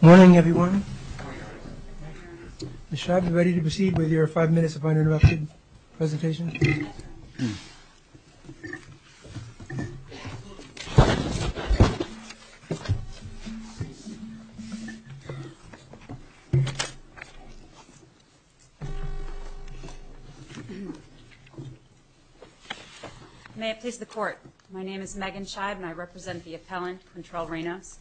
Morning everyone. Ms. Scheib, are you ready to proceed with your five minutes of uninterrupted May it please the court. My name is Megan Scheib and I represent the appellant in Charles Reynos.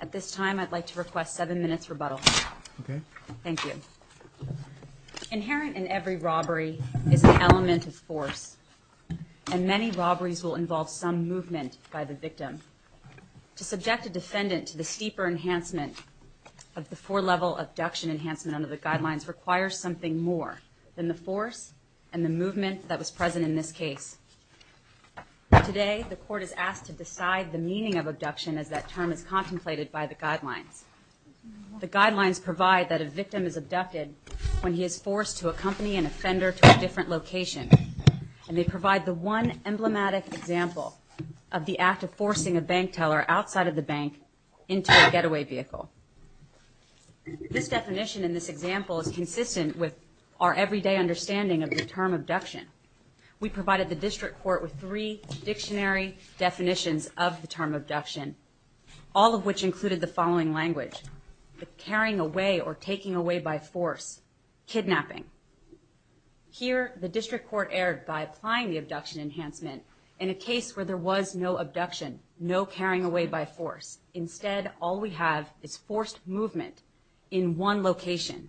At this time I'd like to request seven minutes rebuttal. Thank you. Inherent in every robbery is an element of force, and many robberies will involve some movement by the victim. To subject a defendant to the steeper enhancement of the four-level abduction enhancement under the guidelines requires something more than the force and the movement that was present in this case. Today the court is asked to decide the meaning of abduction as that term is contemplated by the guidelines. The guidelines provide that a victim is abducted when he is forced to accompany an offender to a different location. And they provide the one emblematic example of the act of forcing a bank teller outside of the bank into a getaway vehicle. This definition in this example is consistent with our everyday understanding of the term abduction. We provided the district court with three dictionary definitions of the term abduction, all of which included the following language, carrying away or taking away by force, kidnapping. Here the district court erred by applying the abduction enhancement in a case where there was no abduction, no carrying away by force. Instead, all we have is forced movement in one location.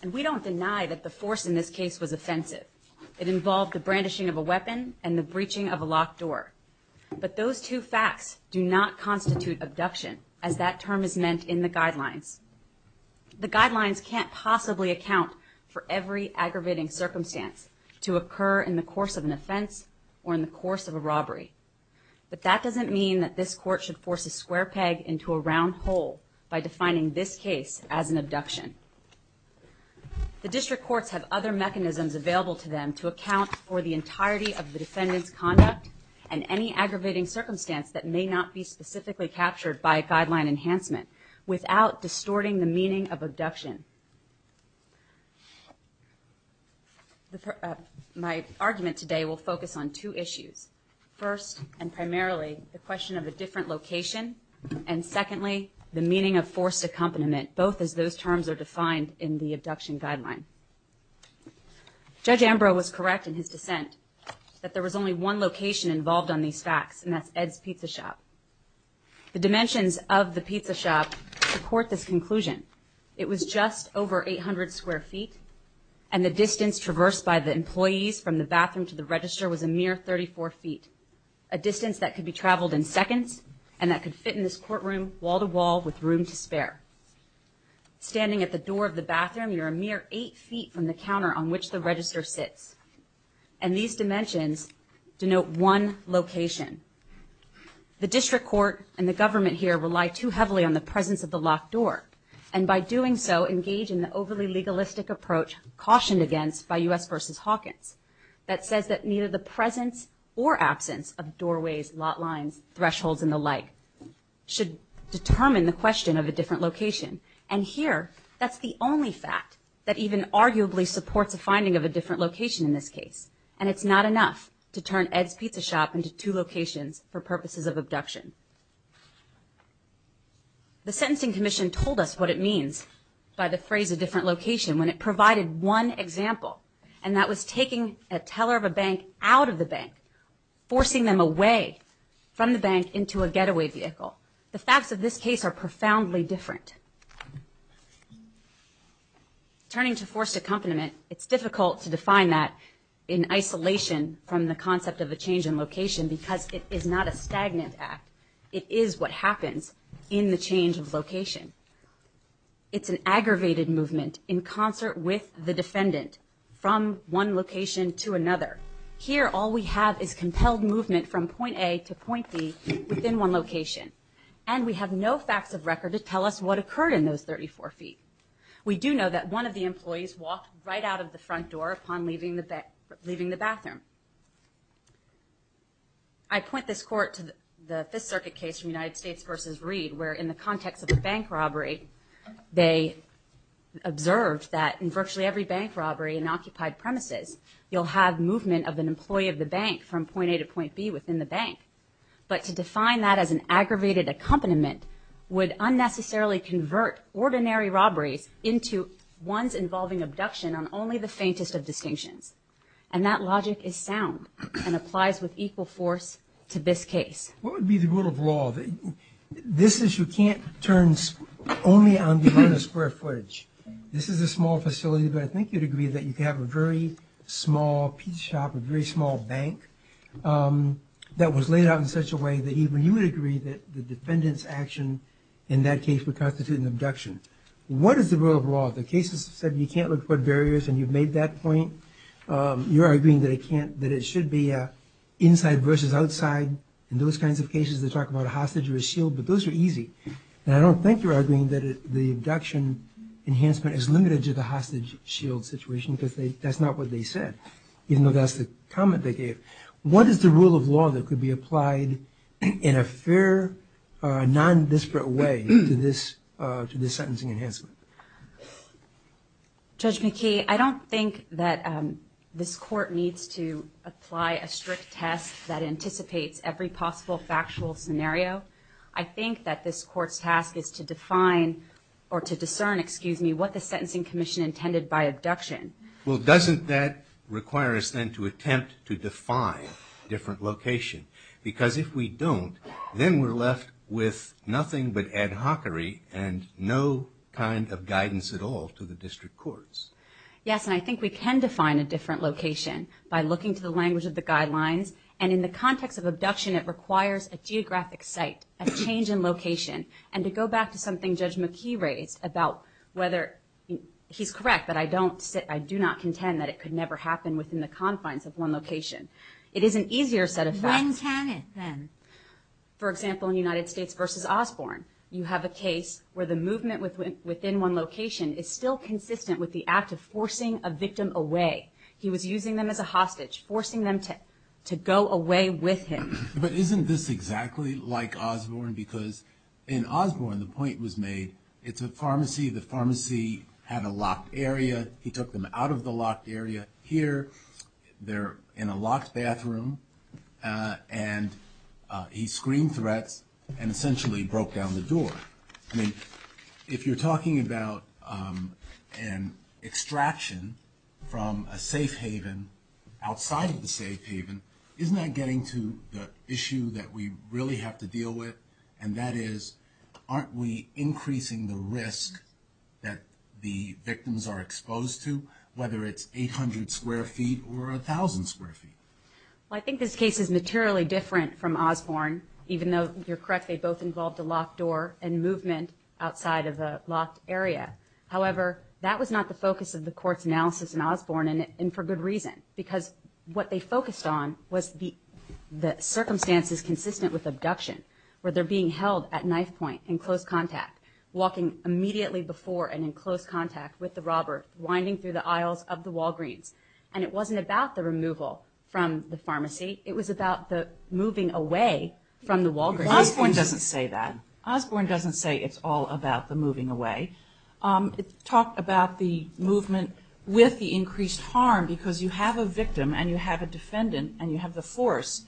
And we don't deny that the force in this case was offensive. It involved the brandishing of a weapon and the breaching of a locked door. But those two facts do not constitute abduction as that term is meant in the guidelines. The guidelines can't possibly account for every aggravating circumstance to occur in the course of an offense or in the course of a robbery. But that doesn't mean that this court should force a square peg into a round hole by defining this case as an abduction. The district courts have other mechanisms available to them to account for the entirety of the defendant's conduct and any aggravating circumstance that may not be specifically captured by a guideline enhancement without distorting the meaning of abduction. My argument today will focus on two issues. First, and primarily, the question of a different location. And secondly, the meaning of forced accompaniment, both as those terms are defined in the abduction guideline. Judge Ambrose was correct in his dissent that there was only one location involved on these facts, and that's Ed's Pizza Shop. The dimensions of the pizza shop support this conclusion. It was just over 800 square feet, and the distance traversed by the employees from the bathroom to the register was a mere 34 feet, a distance that could be traveled in seconds and that could fit in this courtroom wall-to-wall with room to spare. Standing at the door of the bathroom, you're a mere eight feet from the counter on which the register sits. And these dimensions denote one location. The district court and the government here rely too heavily on the presence of the locked door, and by doing so, engage in the overly legalistic approach cautioned against by U.S. v. Hawkins that says that neither the presence or absence of doorways, lot lines, thresholds, and the like should determine the question of a different location. And here, that's the only fact that even arguably supports a finding of a different location in this case, and it's not enough to turn Ed's Pizza Shop into two locations for purposes of abduction. The Sentencing Commission told us what it means by the phrase a different location when it provided one example, and that was taking a teller of a bank out of the bank, forcing them away from the bank into a getaway vehicle. The facts of this case are profoundly different. Turning to forced accompaniment, it's difficult to define that in isolation from the concept of a change in location because it is not a stagnant act. It is what happens in the change of location. It's an aggravated movement in concert with the defendant from one location to another. Here, all we have is compelled movement from point A to point B within one location, and we have no facts of record to tell us what occurred in those 34 feet. We do know that one of the employees walked right out of the front door upon leaving the bathroom. I point this court to the Fifth Circuit case from United States versus Reed, where in the context of a bank robbery, they observed that in virtually every bank robbery in occupied premises, you'll have movement of an employee of the bank from point A to point B within the bank. But to define that as an aggravated accompaniment would unnecessarily convert ordinary robberies into ones involving abduction on only the faintest of distinctions. And that logic is sound and applies with equal force to this case. What would be the rule of law? This issue can't turn only on the amount of square footage. This is a small facility, but I think you'd agree that you could have a very small pizza shop, a very small bank that was laid out in such a way that even you would agree that the defendant's action in that case would constitute an abduction. What is the rule of law? The case has said you can't look for barriers, and you've made that point. You're arguing that it should be inside versus outside. In those kinds of cases, they talk about a hostage or a shield, but those are easy. And I don't think you're arguing that the abduction enhancement is limited to the hostage-shield situation, because that's not what they said, even though that's the comment they gave. What is the rule of law that could be applied in a fair, non-disparate way to this sentencing enhancement? Judge McKee, I don't think that this Court needs to apply a strict test that anticipates every possible factual scenario. I think that this Court's task is to define or to discern what the Sentencing Commission intended by abduction. Well, doesn't that require us then to attempt to define a different location? Because if we don't, then we're left with nothing but ad hocery and no kind of guidance at all to the district courts. Yes, and I think we can define a different location by looking to the language of the guidelines, and in the context of abduction, it requires a geographic site, a change in location. And to go back to something Judge McKee raised about whether he's correct, but I do not contend that it could never happen within the confines of one location. It is an easier set of facts. When can it then? For example, in United States v. Osborne, you have a case where the movement within one location is still consistent with the act of forcing a victim away. He was using them as a hostage, forcing them to go away with him. But isn't this exactly like Osborne? Because in Osborne, the point was made, it's a pharmacy. The pharmacy had a locked area. He took them out of the locked area. Here, they're in a locked bathroom, and he screamed threats and essentially broke down the door. If you're talking about an extraction from a safe haven outside of the safe haven, isn't that getting to the issue that we really have to deal with, and that is aren't we increasing the risk that the victims are exposed to, whether it's 800 square feet or 1,000 square feet? Well, I think this case is materially different from Osborne. Even though you're correct, they both involved a locked door and movement outside of a locked area. However, that was not the focus of the court's analysis in Osborne, and for good reason, because what they focused on was the circumstances consistent with abduction, where they're being held at knife point in close contact, walking immediately before and in close contact with the robber, winding through the aisles of the Walgreens. And it wasn't about the removal from the pharmacy. It was about the moving away from the Walgreens. Osborne doesn't say that. Osborne doesn't say it's all about the moving away. It talked about the movement with the increased harm, because you have a victim and you have a defendant and you have the force.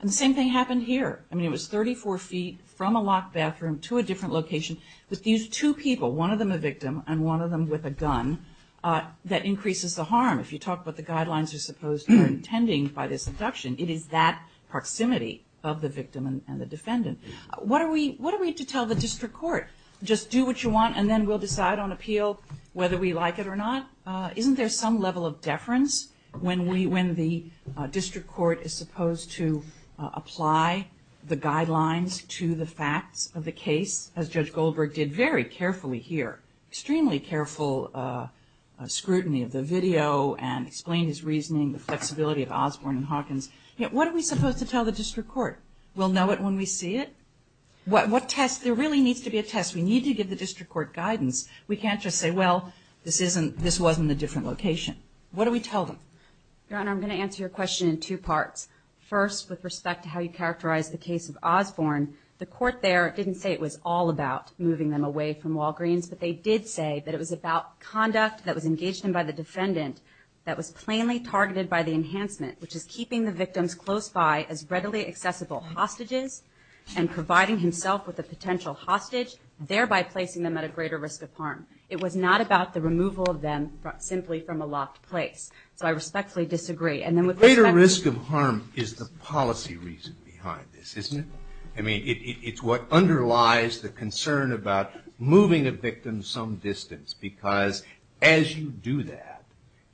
And the same thing happened here. I mean, it was 34 feet from a locked bathroom to a different location with these two people, one of them a victim and one of them with a gun, that increases the harm. If you talk about the guidelines you're supposed to be intending by this abduction, it is that proximity of the victim and the defendant. What are we to tell the district court? Just do what you want and then we'll decide on appeal whether we like it or not? Isn't there some level of deference when the district court is supposed to apply the guidelines to the facts of the case, as Judge Goldberg did very carefully here, extremely careful scrutiny of the video and explained his reasoning, the flexibility of Osborne and Hawkins? What are we supposed to tell the district court? We'll know it when we see it? What test? There really needs to be a test. We need to give the district court guidance. We can't just say, well, this wasn't a different location. What do we tell them? Your Honor, I'm going to answer your question in two parts. First, with respect to how you characterized the case of Osborne, the court there didn't say it was all about moving them away from Walgreens, but they did say that it was about conduct that was engaged in by the defendant that was plainly targeted by the enhancement, which is keeping the victims close by as readily accessible hostages and providing himself with a potential hostage, thereby placing them at a greater risk of harm. It was not about the removal of them simply from a locked place. So I respectfully disagree. The greater risk of harm is the policy reason behind this, isn't it? I mean, it's what underlies the concern about moving a victim some distance, because as you do that,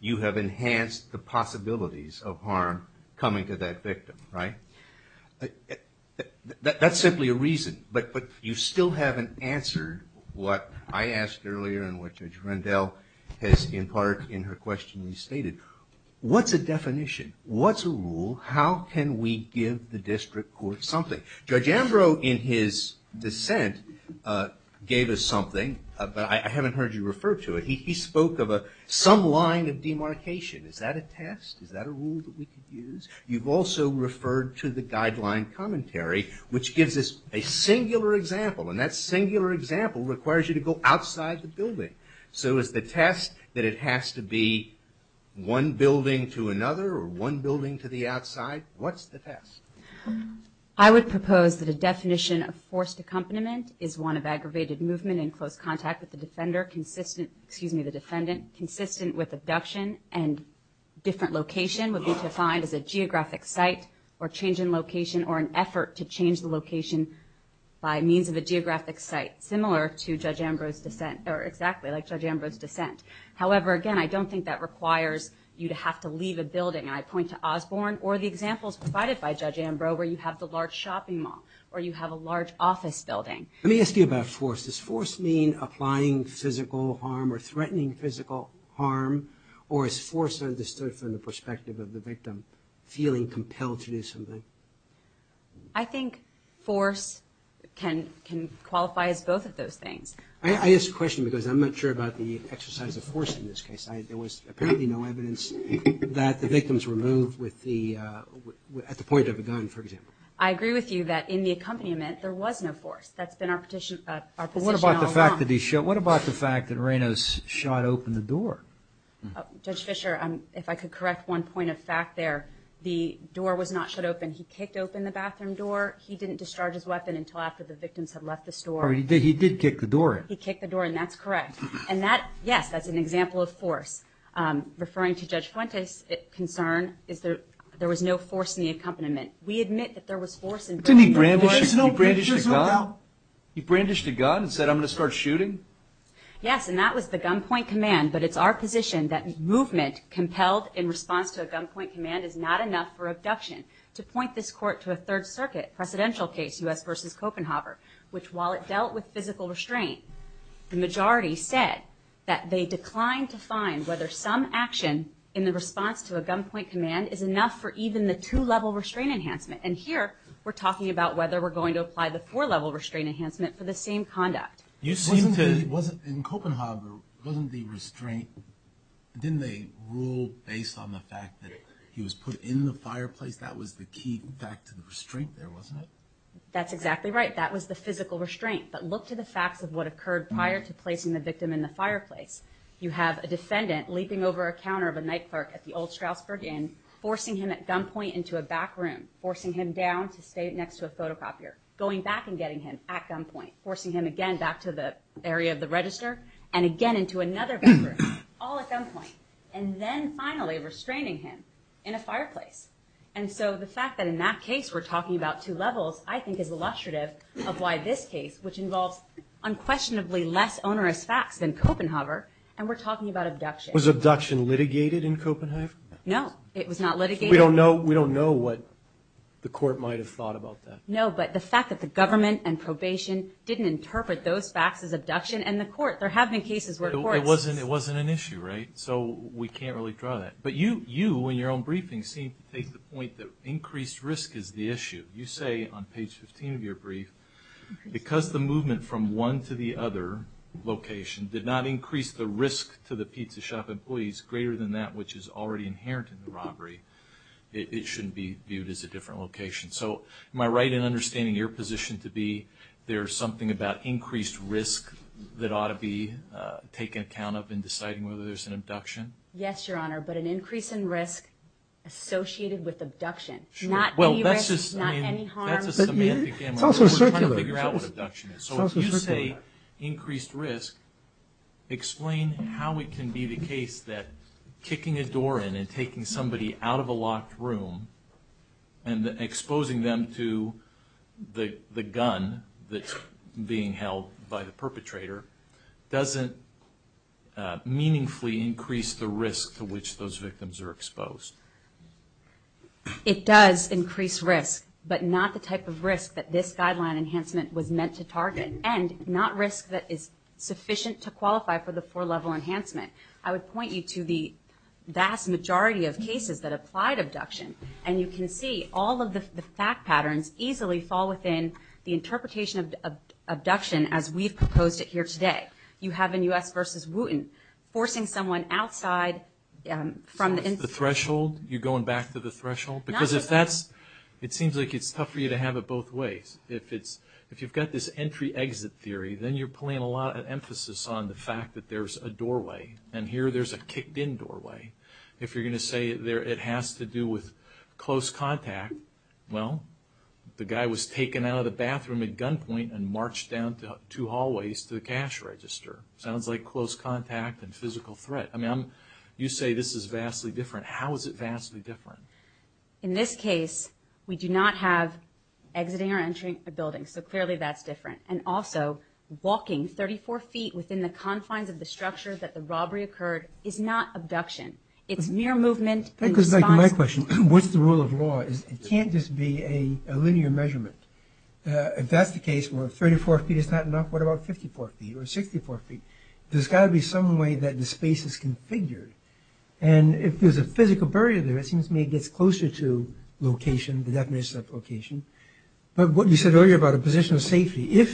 you have enhanced the possibilities of harm coming to that victim, right? That's simply a reason. But you still haven't answered what I asked earlier and what Judge Rendell has in part in her question restated. What's a definition? What's a rule? How can we give the district court something? Judge Ambrose, in his dissent, gave us something, but I haven't heard you refer to it. He spoke of some line of demarcation. Is that a test? Is that a rule that we could use? You've also referred to the guideline commentary, which gives us a singular example, and that singular example requires you to go outside the building. So is the test that it has to be one building to another or one building to the outside? What's the test? I would propose that a definition of forced accompaniment is one of aggravated movement in close contact with the defendant, consistent with abduction, and different location would be defined as a geographic site or change in location or an effort to change the location by means of a geographic site, similar to Judge Ambrose's dissent, or exactly like Judge Ambrose's dissent. However, again, I don't think that requires you to have to leave a building, and I point to Osborne or the examples provided by Judge Ambrose where you have the large shopping mall or you have a large office building. Let me ask you about force. Does force mean applying physical harm or threatening physical harm, or is force understood from the perspective of the victim feeling compelled to do something? I think force can qualify as both of those things. I ask the question because I'm not sure about the exercise of force in this case. There was apparently no evidence that the victims were moved at the point of a gun, for example. I agree with you that in the accompaniment there was no force. That's been our position all along. But what about the fact that he shot? What about the fact that Reynos shot open the door? Judge Fischer, if I could correct one point of fact there, the door was not shut open. He kicked open the bathroom door. He didn't discharge his weapon until after the victims had left the store. He did kick the door in. He kicked the door in. That's correct. Yes, that's an example of force. Referring to Judge Fuentes' concern, there was no force in the accompaniment. We admit that there was force involved. Didn't he brandish a gun? He brandished a gun and said, I'm going to start shooting? Yes, and that was the gunpoint command, but it's our position that movement compelled in response to a gunpoint command is not enough for abduction. To point this court to a Third Circuit presidential case, U.S. v. Copenhagen, which while it dealt with physical restraint, the majority said that they declined to find whether some action in the response to a gunpoint command is enough for even the two-level restraint enhancement. And here we're talking about whether we're going to apply the four-level restraint enhancement for the same conduct. In Copenhagen, wasn't the restraint, didn't they rule based on the fact that he was put in the fireplace? That was the key back to the restraint there, wasn't it? That's exactly right. That was the physical restraint. But look to the facts of what occurred prior to placing the victim in the fireplace. You have a defendant leaping over a counter of a night clerk at the Old Stroudsburg Inn, forcing him at gunpoint into a back room, forcing him down to stay next to a photocopier, going back and getting him at gunpoint, forcing him again back to the area of the register, and again into another back room, all at gunpoint, and then finally restraining him in a fireplace. And so the fact that in that case we're talking about two levels, I think is illustrative of why this case, which involves unquestionably less onerous facts than Copenhagen, and we're talking about abduction. Was abduction litigated in Copenhagen? No, it was not litigated. We don't know what the court might have thought about that. No, but the fact that the government and probation didn't interpret those facts as abduction, and the court, there have been cases where courts. It wasn't an issue, right? So we can't really draw that. But you, in your own briefing, seem to take the point that increased risk is the issue. You say on page 15 of your brief, because the movement from one to the other location did not increase the risk to the pizza shop employees greater than that which is already inherent in the robbery, it shouldn't be viewed as a different location. So am I right in understanding your position to be there's something about increased risk that ought to be taken account of in deciding whether there's an abduction? Yes, Your Honor, but an increase in risk associated with abduction. Not any risk, not any harm. It's also circular. So if you say increased risk, explain how it can be the case that kicking a door in and taking somebody out of a locked room and exposing them to the gun that's being held by the perpetrator doesn't meaningfully increase the risk to which those victims are exposed. It does increase risk, but not the type of risk that this guideline enhancement was meant to target, and not risk that is sufficient to qualify for the four-level enhancement. I would point you to the vast majority of cases that applied abduction, and you can see all of the fact patterns easily fall within the interpretation of abduction as we've proposed it here today. You have in U.S. v. Wooten, forcing someone outside from the... The threshold, you're going back to the threshold? Because if that's... It seems like it's tough for you to have it both ways. If you've got this entry-exit theory, then you're putting a lot of emphasis on the fact that there's a doorway, and here there's a kicked-in doorway. If you're going to say it has to do with close contact, well, the guy was taken out of the bathroom at gunpoint and marched down two hallways to the cash register. Sounds like close contact and physical threat. I mean, you say this is vastly different. How is it vastly different? In this case, we do not have exiting or entering a building, so clearly that's different. And also, walking 34 feet within the confines of the structure that the robbery occurred is not abduction. It's mere movement in response... That goes back to my question. What's the rule of law? It can't just be a linear measurement. If that's the case, where 34 feet is not enough, what about 54 feet or 64 feet? There's got to be some way that the space is configured. And if there's a physical barrier there, it seems to me it gets closer to location, the definition of location. But what you said earlier about a position of safety,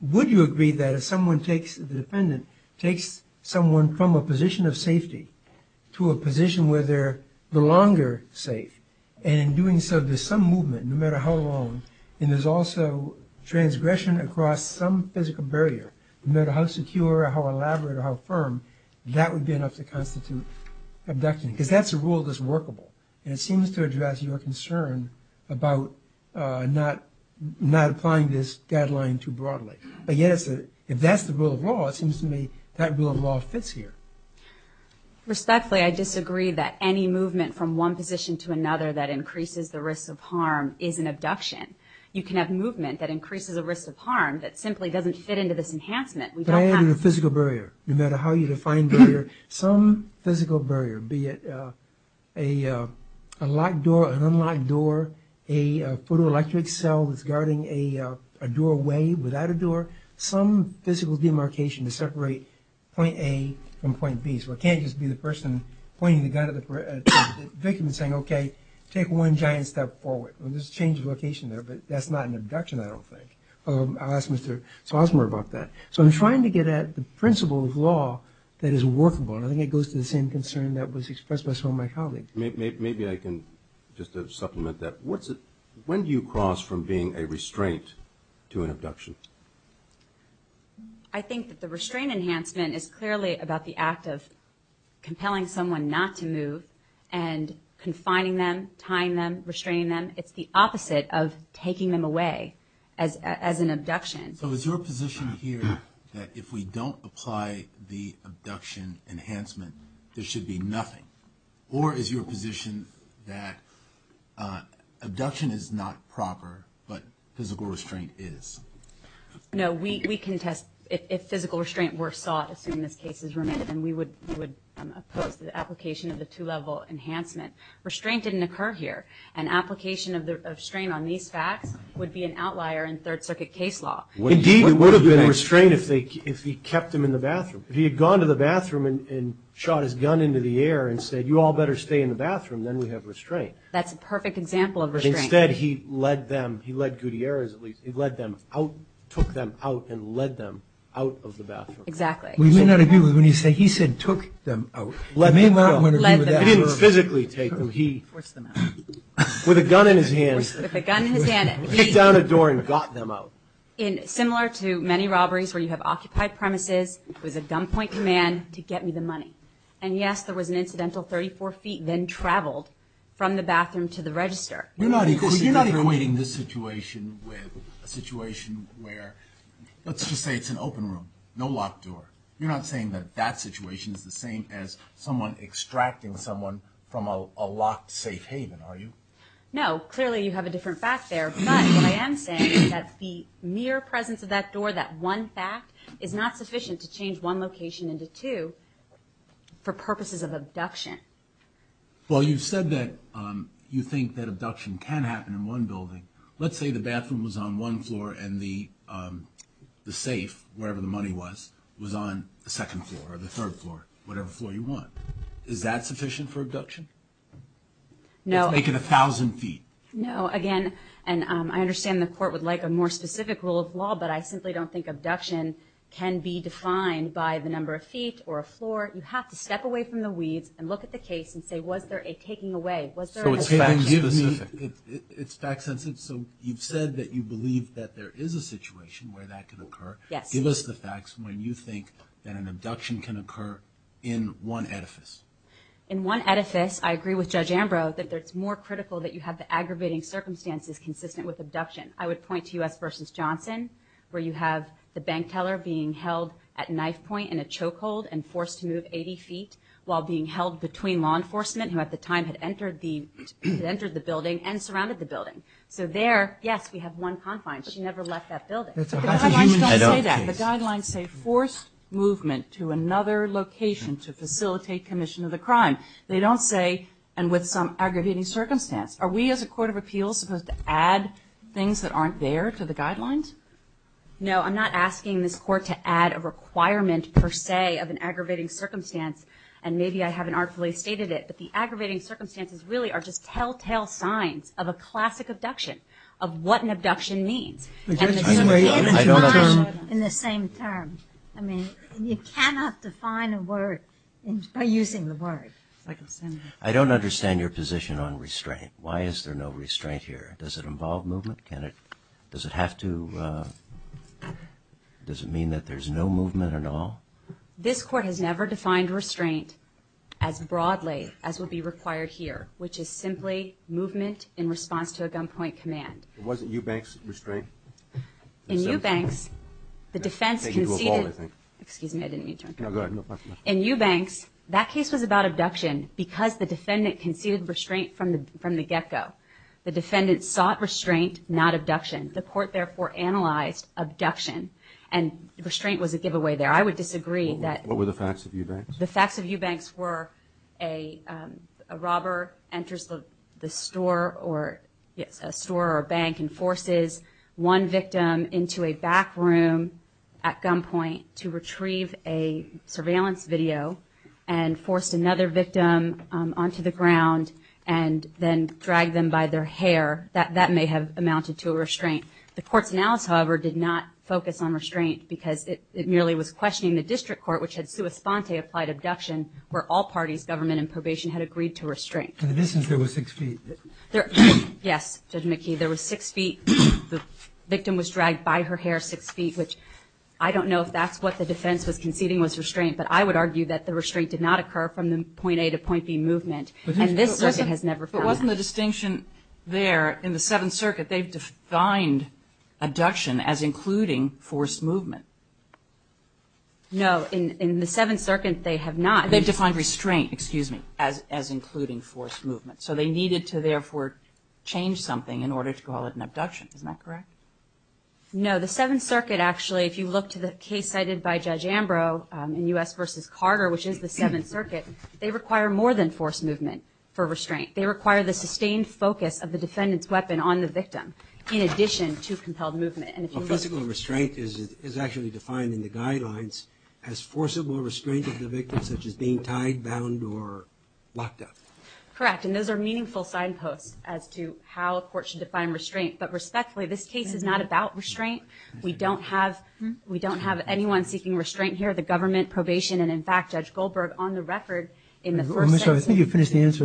would you agree that if someone takes, the defendant takes someone from a position of safety to a position where they're no longer safe, and in doing so there's some movement, no matter how long, and there's also transgression across some physical barrier, no matter how secure or how elaborate or how firm, that would be enough to constitute abduction. Because that's a rule that's workable, and it seems to address your concern about not applying this deadline too broadly. But yet, if that's the rule of law, it seems to me that rule of law fits here. Respectfully, I disagree that any movement from one position to another that increases the risk of harm is an abduction. You can have movement that increases the risk of harm that simply doesn't fit into this enhancement. We don't have... But I am in a physical barrier. No matter how you define barrier, some physical barrier, be it a locked door, an unlocked door, a photoelectric cell that's guarding a doorway without a door, some physical demarcation to separate point A from point B. So it can't just be the person pointing the gun at the victim and saying, okay, take one giant step forward. There's a change of location there, but that's not an abduction, I don't think. I'll ask Mr. Sosmer about that. So I'm trying to get at the principle of law that is workable, and I think it goes to the same concern that was expressed by some of my colleagues. Maybe I can just supplement that. When do you cross from being a restraint to an abduction? I think that the restraint enhancement is clearly about the act of compelling someone not to move and confining them, tying them, restraining them. It's the opposite of taking them away as an abduction. So is your position here that if we don't apply the abduction enhancement, there should be nothing? Or is your position that abduction is not proper, but physical restraint is? No, we can test if physical restraint were sought, assuming this case is remanded, and we would oppose the application of the two-level enhancement. Restraint didn't occur here. An application of restraint on these facts would be an outlier in Third Circuit case law. Indeed, it would have been a restraint if he kept them in the bathroom. If he had gone to the bathroom and shot his gun into the air and said, you all better stay in the bathroom, then we have restraint. That's a perfect example of restraint. Instead, he led them, he led Gutierrez at least, he led them out, took them out, and led them out of the bathroom. Exactly. We may not agree with when you say he said took them out. We may not want to agree with that. He didn't physically take them. He forced them out. With a gun in his hand. With a gun in his hand. He kicked down a door and got them out. Similar to many robberies where you have occupied premises, it was a gunpoint command to get me the money. And yes, there was an incidental 34 feet, then traveled from the bathroom to the register. You're not equating this situation with a situation where, let's just say it's an open room, no locked door. You're not saying that that situation is the same as someone extracting someone from a locked safe haven, are you? No, clearly you have a different fact there. But what I am saying is that the mere presence of that door, that one fact, is not sufficient to change one location into two for purposes of abduction. Well, you've said that you think that abduction can happen in one building. Let's say the bathroom was on one floor and the safe, wherever the money was, was on the second floor or the third floor, whatever floor you want. Is that sufficient for abduction? No. Let's make it 1,000 feet. No. Again, and I understand the court would like a more specific rule of law, but I simply don't think abduction can be defined by the number of feet or a floor. You have to step away from the weeds and look at the case and say, was there a taking away? Was there an abduction? It's fact-sensitive. So you've said that you believe that there is a situation where that can occur. Yes. Give us the facts when you think that an abduction can occur in one edifice. In one edifice, I agree with Judge Ambrose, that it's more critical that you have the aggravating circumstances consistent with abduction. I would point to U.S. v. Johnson, where you have the bank teller being held at knife point in a choke hold and forced to move 80 feet while being held between law enforcement, who at the time had entered the building and surrounded the building. So there, yes, we have one confine. She never left that building. The guidelines don't say that. The guidelines say forced movement to another location to facilitate commission of the crime. They don't say, and with some aggravating circumstance. Are we, as a court of appeals, supposed to add things that aren't there to the guidelines? No, I'm not asking this court to add a requirement, per se, of an aggravating circumstance, and maybe I haven't artfully stated it, but the aggravating circumstances really are just telltale signs of a classic abduction, of what an abduction means. I don't understand. In the same term. I mean, you cannot define a word by using the word. I don't understand your position on restraint. Why is there no restraint here? Does it involve movement? Does it have to? Does it mean that there's no movement at all? This court has never defined restraint as broadly as would be required here, which is simply movement in response to a gunpoint command. Wasn't Eubanks restraint? In Eubanks, the defense conceded. Excuse me, I didn't mean to interrupt. In Eubanks, that case was about abduction because the defendant conceded restraint from the get-go. The defendant sought restraint, not abduction. The court, therefore, analyzed abduction, and restraint was a giveaway there. I would disagree that. What were the facts of Eubanks? The facts of Eubanks were a robber enters the store or bank and forces one victim into a back room at gunpoint to retrieve a surveillance video and forced another victim onto the ground and then dragged them by their hair. That may have amounted to a restraint. The court's analysis, however, did not focus on restraint because it merely was where all parties, government and probation, had agreed to restraint. In this instance, there were six feet. Yes, Judge McKee, there were six feet. The victim was dragged by her hair six feet, which I don't know if that's what the defense was conceding was restraint, but I would argue that the restraint did not occur from the point A to point B movement, and this circuit has never found that. But wasn't the distinction there in the Seventh Circuit, they've defined abduction as including forced movement. No. In the Seventh Circuit, they have not. They've defined restraint, excuse me, as including forced movement. So they needed to therefore change something in order to call it an abduction. Isn't that correct? No. The Seventh Circuit, actually, if you look to the case cited by Judge Ambrose in U.S. versus Carter, which is the Seventh Circuit, they require more than forced movement for restraint. They require the sustained focus of the defendant's weapon on the victim in addition to compelled movement. Well, physical restraint is actually defined in the guidelines as forcible restraint of the victim, such as being tied, bound, or locked up. Correct. And those are meaningful signposts as to how a court should define restraint. But respectfully, this case is not about restraint. We don't have anyone seeking restraint here. The government, probation, and, in fact, Judge Goldberg, on the record in the first sentence. I think you've finished the answer.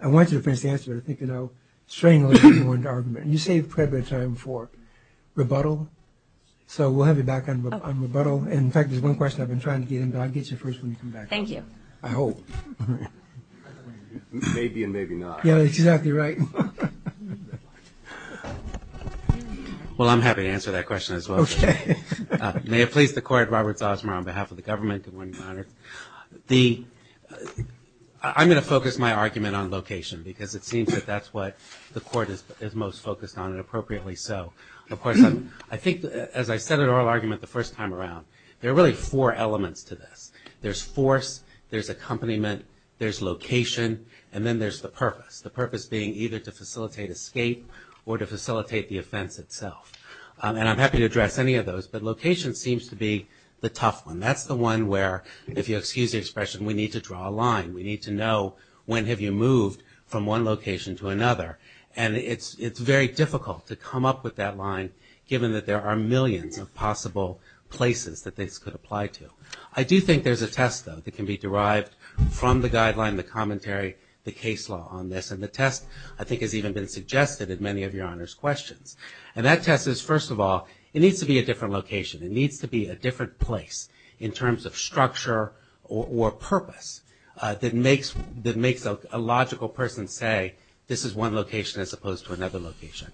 I want you to finish the answer, but I think, you know, we have a little bit of time for rebuttal. So we'll have you back on rebuttal. In fact, there's one question I've been trying to get in, but I'll get you first when you come back. Thank you. I hope. Maybe and maybe not. Yeah, exactly right. Well, I'm happy to answer that question as well. Okay. May it please the Court, Robert Zosmer on behalf of the government. Good morning, Your Honor. I'm going to focus my argument on location because it seems that that's what the Court is most focused on and appropriately so. Of course, I think as I said in oral argument the first time around, there are really four elements to this. There's force, there's accompaniment, there's location, and then there's the purpose. The purpose being either to facilitate escape or to facilitate the offense itself. And I'm happy to address any of those, but location seems to be the tough one. That's the one where, if you'll excuse the expression, we need to draw a line. We need to know when have you moved from one location to another. And it's very difficult to come up with that line, given that there are millions of possible places that this could apply to. I do think there's a test, though, that can be derived from the guideline, the commentary, the case law on this. And the test, I think, has even been suggested in many of Your Honor's questions. And that test is, first of all, it needs to be a different location. It needs to be a different place in terms of structure or purpose that makes a logical person say this is one location as opposed to another location.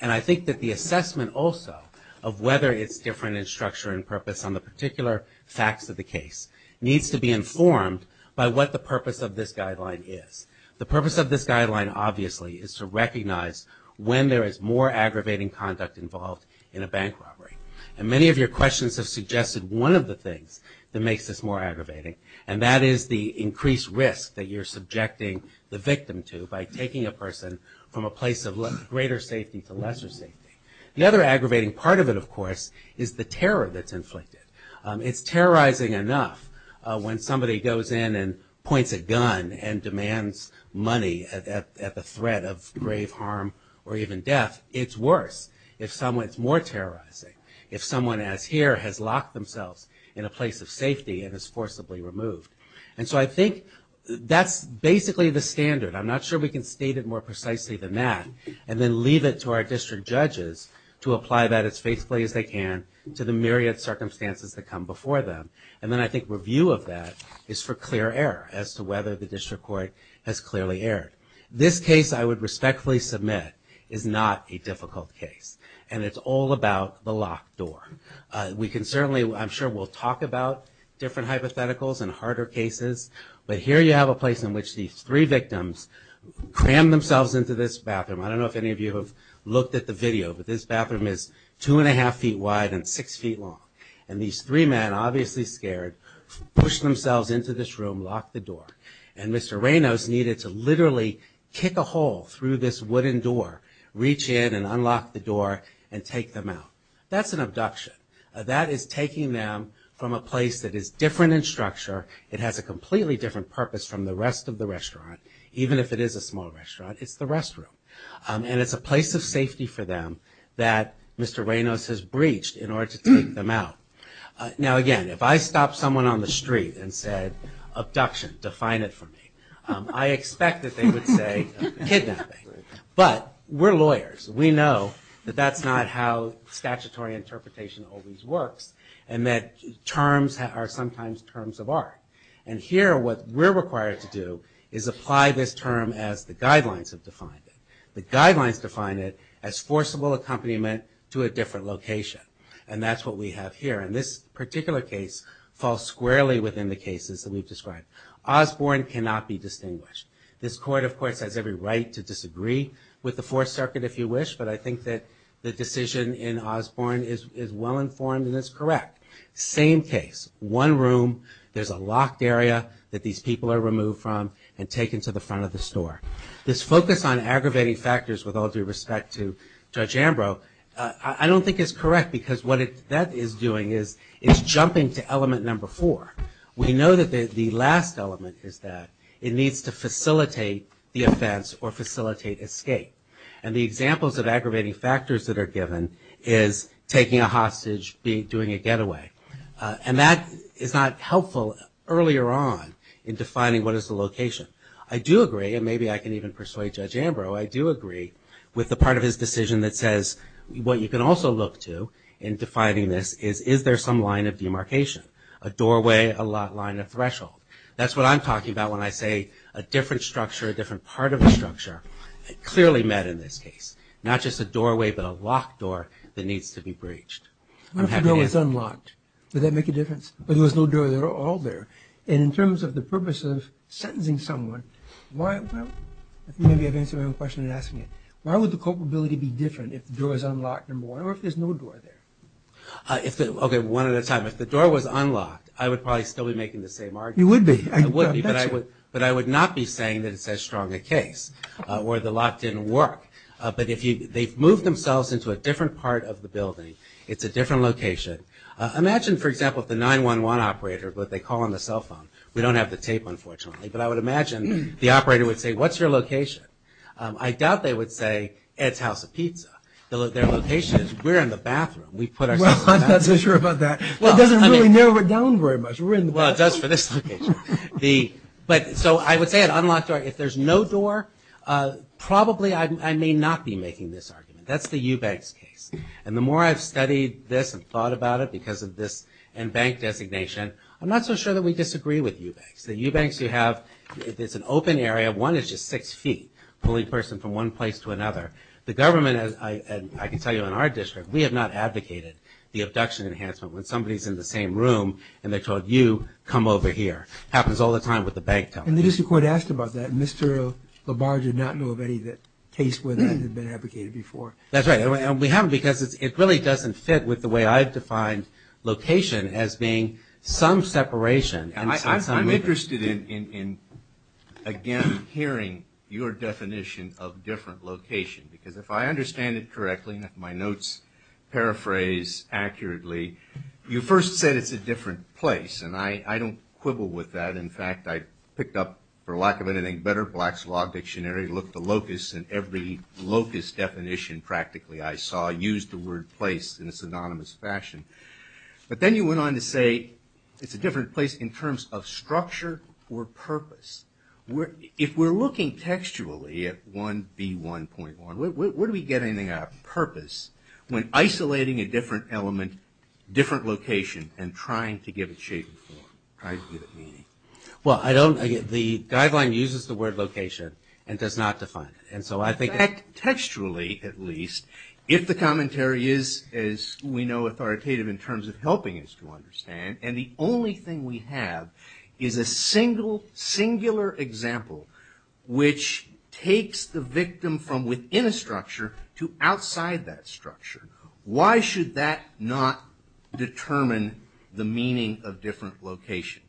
And I think that the assessment also of whether it's different in structure and purpose on the particular facts of the case needs to be informed by what the purpose of this guideline is. The purpose of this guideline, obviously, is to recognize when there is more aggravating conduct involved in a bank robbery. And many of your questions have suggested one of the things that makes this more aggravating. And that is the increased risk that you're subjecting the victim to by taking a person from a place of greater safety to lesser safety. The other aggravating part of it, of course, is the terror that's inflicted. It's terrorizing enough when somebody goes in and points a gun and demands money at the threat of grave harm or even death. It's worse if someone's more terrorizing, if someone as here has locked themselves in a place of safety and is forcibly removed. And so I think that's basically the standard. I'm not sure we can state it more precisely than that and then leave it to our district judges to apply that as faithfully as they can to the myriad circumstances that come before them. And then I think review of that is for clear error as to whether the district court has clearly erred. This case I would respectfully submit is not a difficult case. And it's all about the locked door. We can certainly, I'm sure we'll talk about different hypotheticals and harder cases. But here you have a place in which these three victims crammed themselves into this bathroom. I don't know if any of you have looked at the video, but this bathroom is two and a half feet wide and six feet long. And these three men, obviously scared, pushed themselves into this room, locked the door. And Mr. Reynos needed to literally kick a hole through this wooden door, reach in and unlock the door and take them out. That's an abduction. That is taking them from a place that is different in structure. It has a completely different purpose from the rest of the restaurant, even if it is a small restaurant. It's the restroom. And it's a place of safety for them that Mr. Reynos has breached in order to take them out. Now again, if I stopped someone on the street and said, abduction, define it for me, I expect that they would say kidnapping. But we're lawyers. We know that that's not how statutory interpretation always works and that terms are sometimes terms of art. And here what we're required to do is apply this term as the guidelines have defined it. The guidelines define it as forcible accompaniment to a different location. And that's what we have here. And this particular case falls squarely within the cases that we've described. Osborne cannot be distinguished. This court, of course, has every right to disagree with the Fourth Circuit if you wish, but I think that the decision in Osborne is well informed and it's correct. Same case. One room. There's a locked area that these people are removed from and taken to the front of the store. This focus on aggravating factors with all due respect to Judge Ambrose, I don't think is correct because what that is doing is it's jumping to element number four. We know that the last element is that it needs to facilitate the offense or facilitate escape. And the examples of aggravating factors that are given is taking a hostage, doing a getaway. And that is not helpful earlier on in defining what is the location. I do agree, and maybe I can even persuade Judge Ambrose, I do agree with the part of his decision that says what you can also look to in defining this is is there some line of demarcation, a doorway, a line of threshold. That's what I'm talking about when I say a different structure, a different part of the structure clearly met in this case, not just a doorway but a locked door that needs to be breached. I'm happy to answer. What if the door was unlocked? Would that make a difference? But there was no door at all there. And in terms of the purpose of sentencing someone, I think maybe I've answered your question in asking it. Why would the culpability be different if the door was unlocked, or if there's no door there? Okay, one at a time. If the door was unlocked, I would probably still be making the same argument. You would be. But I would not be saying that it's as strong a case or the lock didn't work. But they've moved themselves into a different part of the building. It's a different location. Imagine, for example, if the 911 operator, but they call on the cell phone. We don't have the tape, unfortunately. But I would imagine the operator would say, what's your location? I doubt they would say, Ed's House of Pizza. Their location is, we're in the bathroom. We put ourselves in the bathroom. Well, I'm not so sure about that. Well, it doesn't really narrow it down very much. We're in the bathroom. Well, it does for this location. So I would say an unlocked door. If there's no door, probably I may not be making this argument. That's the Eubanks case. And the more I've studied this and thought about it because of this and bank designation, I'm not so sure that we disagree with Eubanks. The Eubanks you have, it's an open area. One is just six feet, pulling a person from one place to another. The government, as I can tell you in our district, we have not advocated the abduction enhancement. When somebody is in the same room and they're told, you, come over here, it happens all the time with the bank telephone. And the district court asked about that, and Mr. Labarge did not know of any case where that had been advocated before. That's right. And we haven't because it really doesn't fit with the way I've defined location as being some separation and some movement. I'm interested in, again, hearing your definition of different location because if I understand it correctly, and if my notes paraphrase accurately, you first said it's a different place. And I don't quibble with that. In fact, I picked up, for lack of anything better, Black's Law Dictionary, looked the locus in every locus definition practically I saw, used the word place in a synonymous fashion. But then you went on to say it's a different place in terms of structure or purpose. If we're looking textually at 1B1.1, where do we get anything out of purpose when isolating a different element, different location, and trying to give it shape and form, trying to give it meaning? Well, the guideline uses the word location and does not define it. Textually, at least, if the commentary is, as we know, authoritative in terms of helping us to understand, and the only thing we have is a single, singular example which takes the victim from within a structure to outside that structure, why should that not determine the meaning of different location?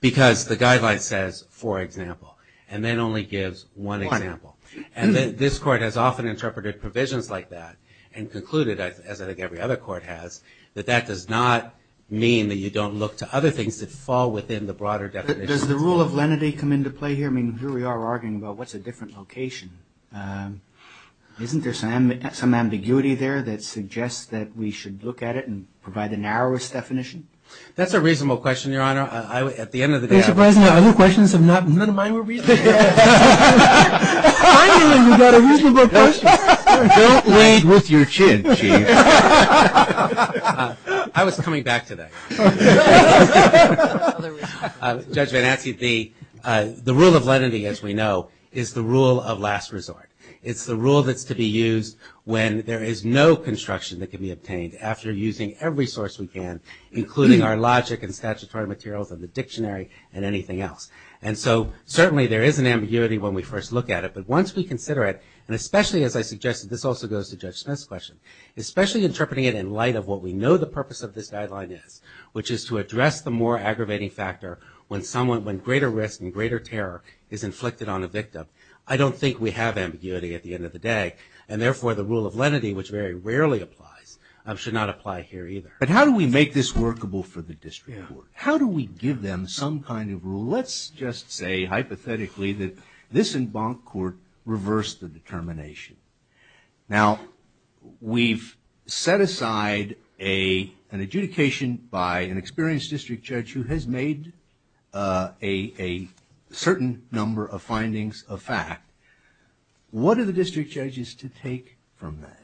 Because the guideline says, for example, and then only gives one example. And this court has often interpreted provisions like that and concluded, as I think every other court has, that that does not mean that you don't look to other things that fall within the broader definition. Does the rule of lenity come into play here? I mean, here we are arguing about what's a different location. Isn't there some ambiguity there that suggests that we should look at it and provide the narrowest definition? That's a reasonable question, Your Honor. At the end of the day, I... Mr. President, other questions have not... None of mine were reasonable. Finally, we got a reasonable question. Don't lead with your chin, Chief. I was coming back to that. Judge Van Atze, the rule of lenity, as we know, is the rule of last resort. It's the rule that's to be used when there is no construction that can be obtained after using every source we can, including our logic and statutory materials of the dictionary and anything else. And so certainly there is an ambiguity when we first look at it, but once we consider it, and especially, as I suggested, this also goes to Judge Smith's question, especially interpreting it in light of what we know the purpose of this guideline is, which is to address the more aggravating factor when greater risk and greater terror is inflicted on a victim. I don't think we have ambiguity at the end of the day, and therefore the rule of lenity, which very rarely applies, should not apply here either. But how do we make this workable for the district court? How do we give them some kind of rule? Let's just say, hypothetically, that this in bonk court reversed the determination. Now, we've set aside an adjudication by an experienced district judge who has made a certain number of findings of fact. What are the district judges to take from that?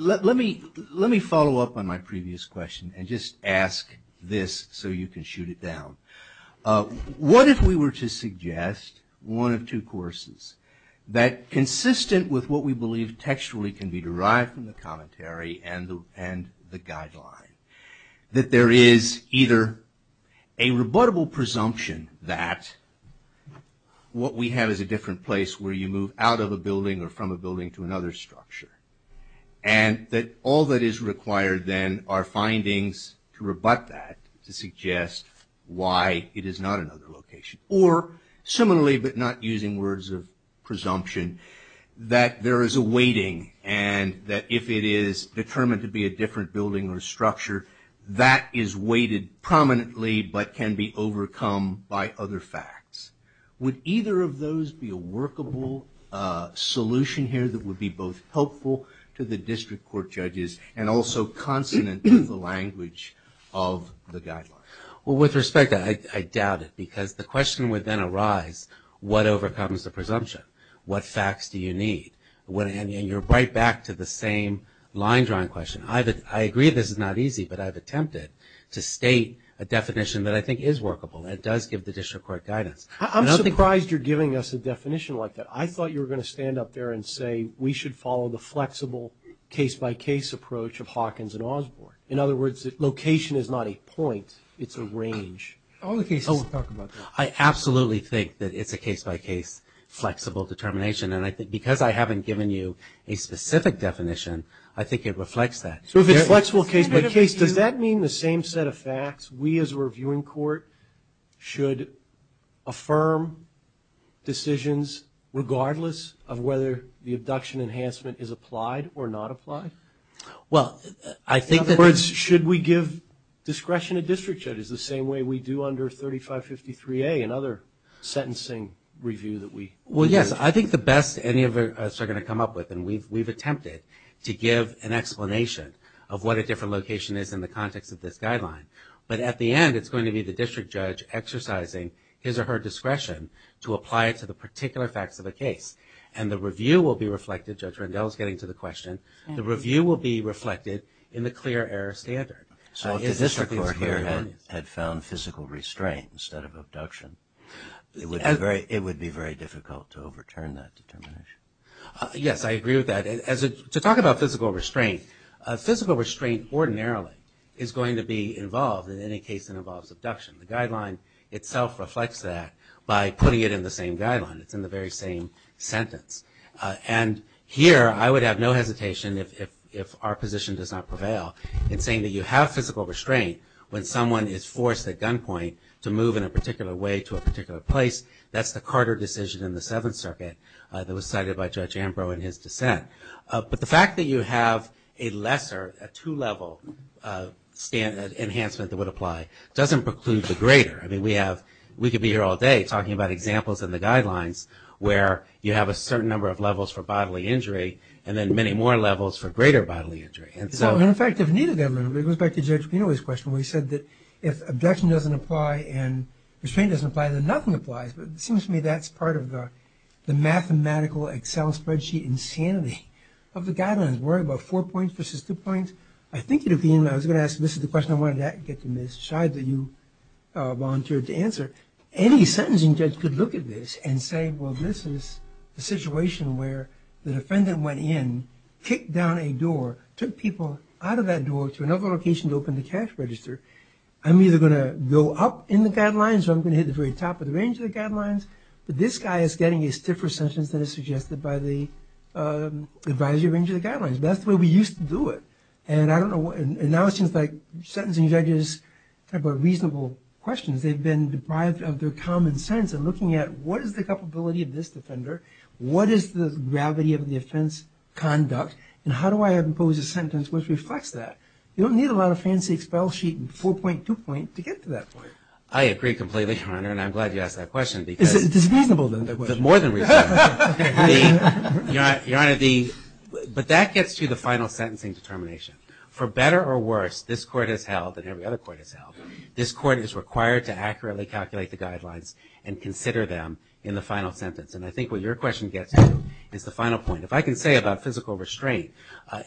Let me follow up on my previous question and just ask this so you can shoot it down. What if we were to suggest one of two courses that consistent with what we believe textually can be derived from the commentary and the guideline, that there is either a rebuttable presumption that what we have is a different place where you move out of a building or from a building to another structure, and that all that is required then are findings to rebut that to suggest why it is not another location. Or, similarly but not using words of presumption, that there is a weighting, and that if it is determined to be a different building or structure, that is weighted prominently but can be overcome by other facts. Would either of those be a workable solution here that would be both helpful to the district court judges and also consonant with the language of the guideline? Well, with respect, I doubt it. Because the question would then arise, what overcomes the presumption? What facts do you need? And you're right back to the same line-drawing question. I agree this is not easy, but I've attempted to state a definition that I think is workable and does give the district court guidance. I'm surprised you're giving us a definition like that. I thought you were going to stand up there and say, we should follow the flexible case-by-case approach of Hawkins and Osborne. In other words, location is not a point, it's a range. All the cases talk about that. I absolutely think that it's a case-by-case flexible determination, and I think because I haven't given you a specific definition, I think it reflects that. So if it's flexible case-by-case, does that mean the same set of facts, we as a reviewing court should affirm decisions regardless of whether the abduction enhancement is applied or not applied? In other words, should we give discretion to district judges the same way we do under 3553A and other sentencing review that we do? Well, yes, I think the best any of us are going to come up with, and we've attempted to give an explanation of what a different location is in the context of this guideline. But at the end, it's going to be the district judge exercising his or her discretion to apply it to the particular facts of the case. And the review will be reflected, Judge Rendell is getting to the question, the review will be reflected in the clear error standard. So if the district court here had found physical restraint instead of abduction, it would be very difficult to overturn that determination. Yes, I agree with that. To talk about physical restraint, physical restraint ordinarily is going to be involved in any case that involves abduction. The guideline itself reflects that by putting it in the same guideline. It's in the very same sentence. And here I would have no hesitation, if our position does not prevail, in saying that you have physical restraint when someone is forced at gunpoint to move in a particular way to a particular place. That's the Carter decision in the Seventh Circuit that was cited by Judge Ambrose in his dissent. But the fact that you have a lesser, a two-level enhancement that would apply doesn't preclude the greater. I mean, we could be here all day talking about examples in the guidelines where you have a certain number of levels for bodily injury and then many more levels for greater bodily injury. In fact, it goes back to Judge Pinoy's question where he said that if abduction doesn't apply and restraint doesn't apply, then nothing applies. But it seems to me that's part of the mathematical Excel spreadsheet insanity of the guidelines. We're at about four points versus two points. I think at the end I was going to ask, this is the question I wanted to get to, Ms. Scheid, that you volunteered to answer. Any sentencing judge could look at this and say, well, this is the situation where the defendant went in, kicked down a door, took people out of that door to another location to open the cash register. I'm either going to go up in the guidelines or I'm going to hit the very top of the range of the guidelines. But this guy is getting a stiffer sentence than is suggested by the advisory range of the guidelines. That's the way we used to do it. And now it seems like sentencing judges have got reasonable questions. They've been deprived of their common sense and looking at what is the culpability of this defender, what is the gravity of the offense conduct, and how do I impose a sentence which reflects that? You don't need a lot of fancy Excel sheet and 4.2 point to get to that point. I agree completely, Your Honor, and I'm glad you asked that question. It's reasonable. More than reasonable. Your Honor, but that gets to the final sentencing determination. For better or worse, this court has held, and every other court has held, this court is required to accurately calculate the guidelines and consider them in the final sentence. And I think what your question gets to is the final point. If I can say about physical restraint,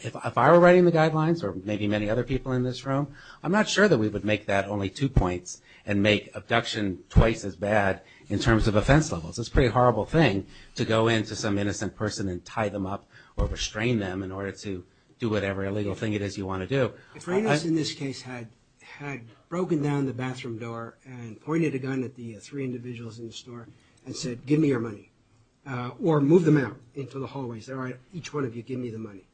if I were writing the guidelines or maybe many other people in this room, I'm not sure that we would make that only two points and make abduction twice as bad in terms of offense levels. It's a pretty horrible thing to go into some innocent person and tie them up or restrain them in order to do whatever illegal thing it is you want to do. If Reynolds in this case had broken down the bathroom door and pointed a gun at the three individuals in the store and said, give me your money, or moved them out into the hallways, each one of you give me the money,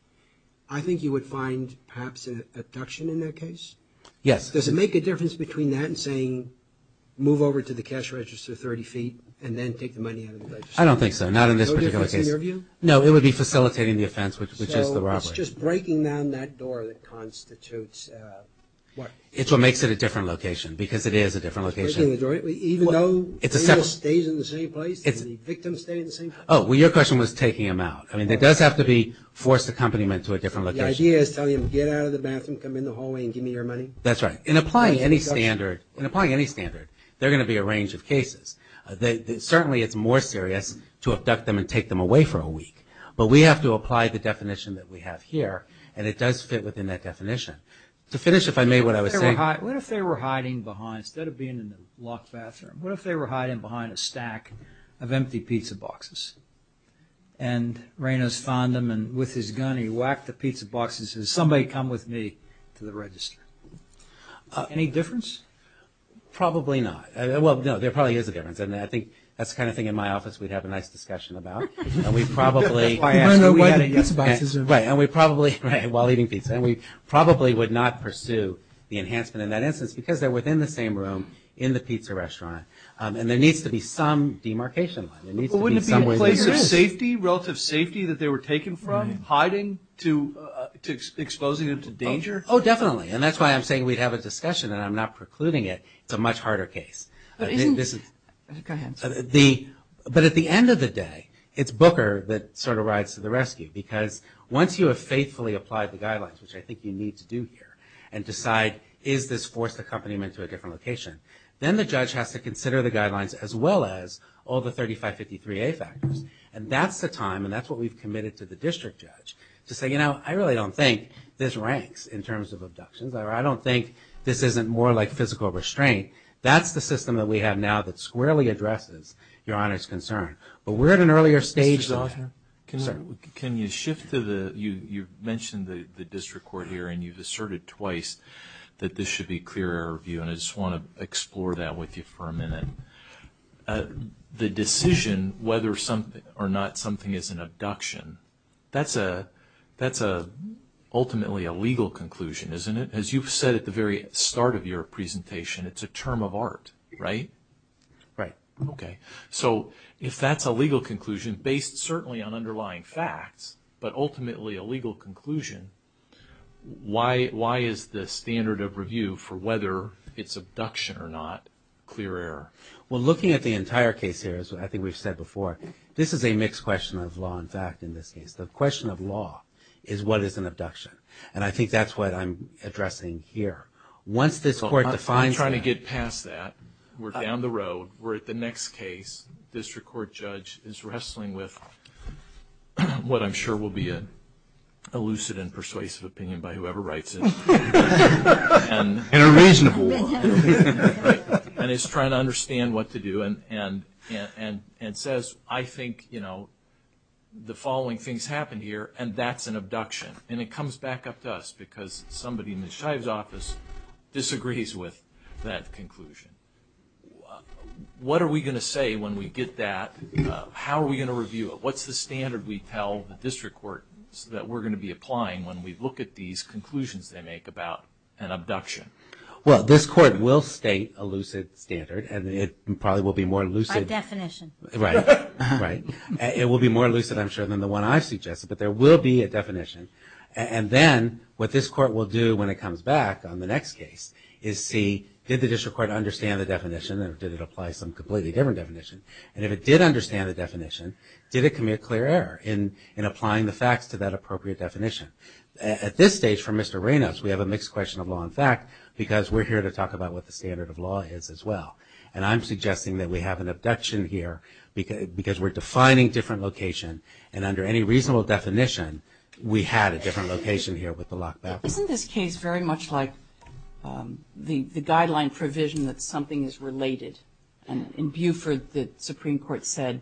I think you would find perhaps an abduction in that case? Yes. Does it make a difference between that and saying, move over to the cash register 30 feet and then take the money out of the register? I don't think so, not in this particular case. No, it would be facilitating the offense, which is the robbery. So it's just breaking down that door that constitutes what? It's what makes it a different location, because it is a different location. Breaking the door, even though Reynolds stays in the same place, the victims stay in the same place? Oh, your question was taking them out. I mean, there does have to be forced accompaniment to a different location. So the idea is telling them, get out of the bathroom, come in the hallway and give me your money? That's right. In applying any standard, they're going to be a range of cases. Certainly it's more serious to abduct them and take them away for a week. But we have to apply the definition that we have here, and it does fit within that definition. To finish, if I may, what I was saying... What if they were hiding behind, instead of being in a locked bathroom, what if they were hiding behind a stack of empty pizza boxes? And Reynolds found them, and with his gun he whacked the pizza boxes and said, somebody come with me to the register. Any difference? Probably not. Well, no, there probably is a difference, and I think that's the kind of thing in my office we'd have a nice discussion about. And we probably... We'd learn why the pizza boxes are... Right, and we probably, while eating pizza, and we probably would not pursue the enhancement in that instance, because they're within the same room in the pizza restaurant. And there needs to be some demarcation line. But wouldn't it be a place of safety, relative safety, that they were taken from, hiding, to exposing them to danger? Oh, definitely. And that's why I'm saying we'd have a discussion, and I'm not precluding it. It's a much harder case. But isn't... Go ahead. But at the end of the day, it's Booker that sort of rides to the rescue, because once you have faithfully applied the guidelines, which I think you need to do here, and decide is this forced accompaniment to a different location, then the judge has to consider the guidelines as well as all the 3553A factors. And that's the time, and that's what we've committed to the district judge, to say, you know, I really don't think this ranks in terms of abductions, or I don't think this isn't more like physical restraint. That's the system that we have now that squarely addresses Your Honor's concern. But we're at an earlier stage... Mr. Zeller? Sir? Can you shift to the... You mentioned the district court here, and you've asserted twice that this should be clear error review, and I just want to explore that with you for a minute. The decision whether or not something is an abduction, that's ultimately a legal conclusion, isn't it? As you've said at the very start of your presentation, it's a term of art, right? Right. Okay. So if that's a legal conclusion, based certainly on underlying facts, but ultimately a legal conclusion, why is the standard of review for whether it's abduction or not clear error? Well, looking at the entire case here, as I think we've said before, this is a mixed question of law and fact in this case. The question of law is what is an abduction, and I think that's what I'm addressing here. Once this court defines that... I'm trying to get past that. We're down the road. We're at the next case. This district court judge is wrestling with what I'm sure will be a lucid and persuasive opinion by whoever writes it. And a reasonable one. And is trying to understand what to do and says, I think the following things happened here, and that's an abduction. And it comes back up to us because somebody in Ms. Shive's office disagrees with that conclusion. What are we going to say when we get that? How are we going to review it? What's the standard we tell the district court that we're going to be applying when we look at these conclusions they make about an abduction? Well, this court will state a lucid standard, and it probably will be more lucid... By definition. Right, right. It will be more lucid, I'm sure, than the one I've suggested, but there will be a definition. And then what this court will do when it comes back on the next case is see, did the district court understand the definition, or did it apply some completely different definition? And if it did understand the definition, did it commit a clear error in applying the facts to that appropriate definition? At this stage, for Mr. Reynolds, we have a mixed question of law and fact because we're here to talk about what the standard of law is as well. And I'm suggesting that we have an abduction here because we're defining different location, and under any reasonable definition, we had a different location here with the locked back door. Isn't this case very much like the guideline provision that something is related? And in Buford, the Supreme Court said,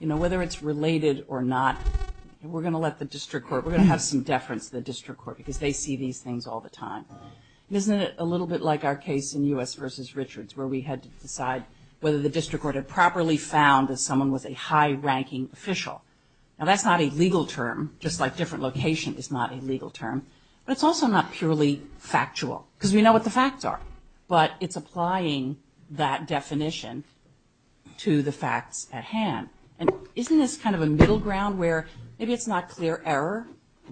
you know, whether it's related or not, we're going to let the district court... We're going to have some deference to the district court because they see these things all the time. Isn't it a little bit like our case in U.S. v. Richards where we had to decide whether the district court had properly found that someone was a high-ranking official? Now, that's not a legal term, just like different location is not a legal term, but it's also not purely factual because we know what the facts are, but it's applying that definition to the facts at hand. And isn't this kind of a middle ground where maybe it's not clear error,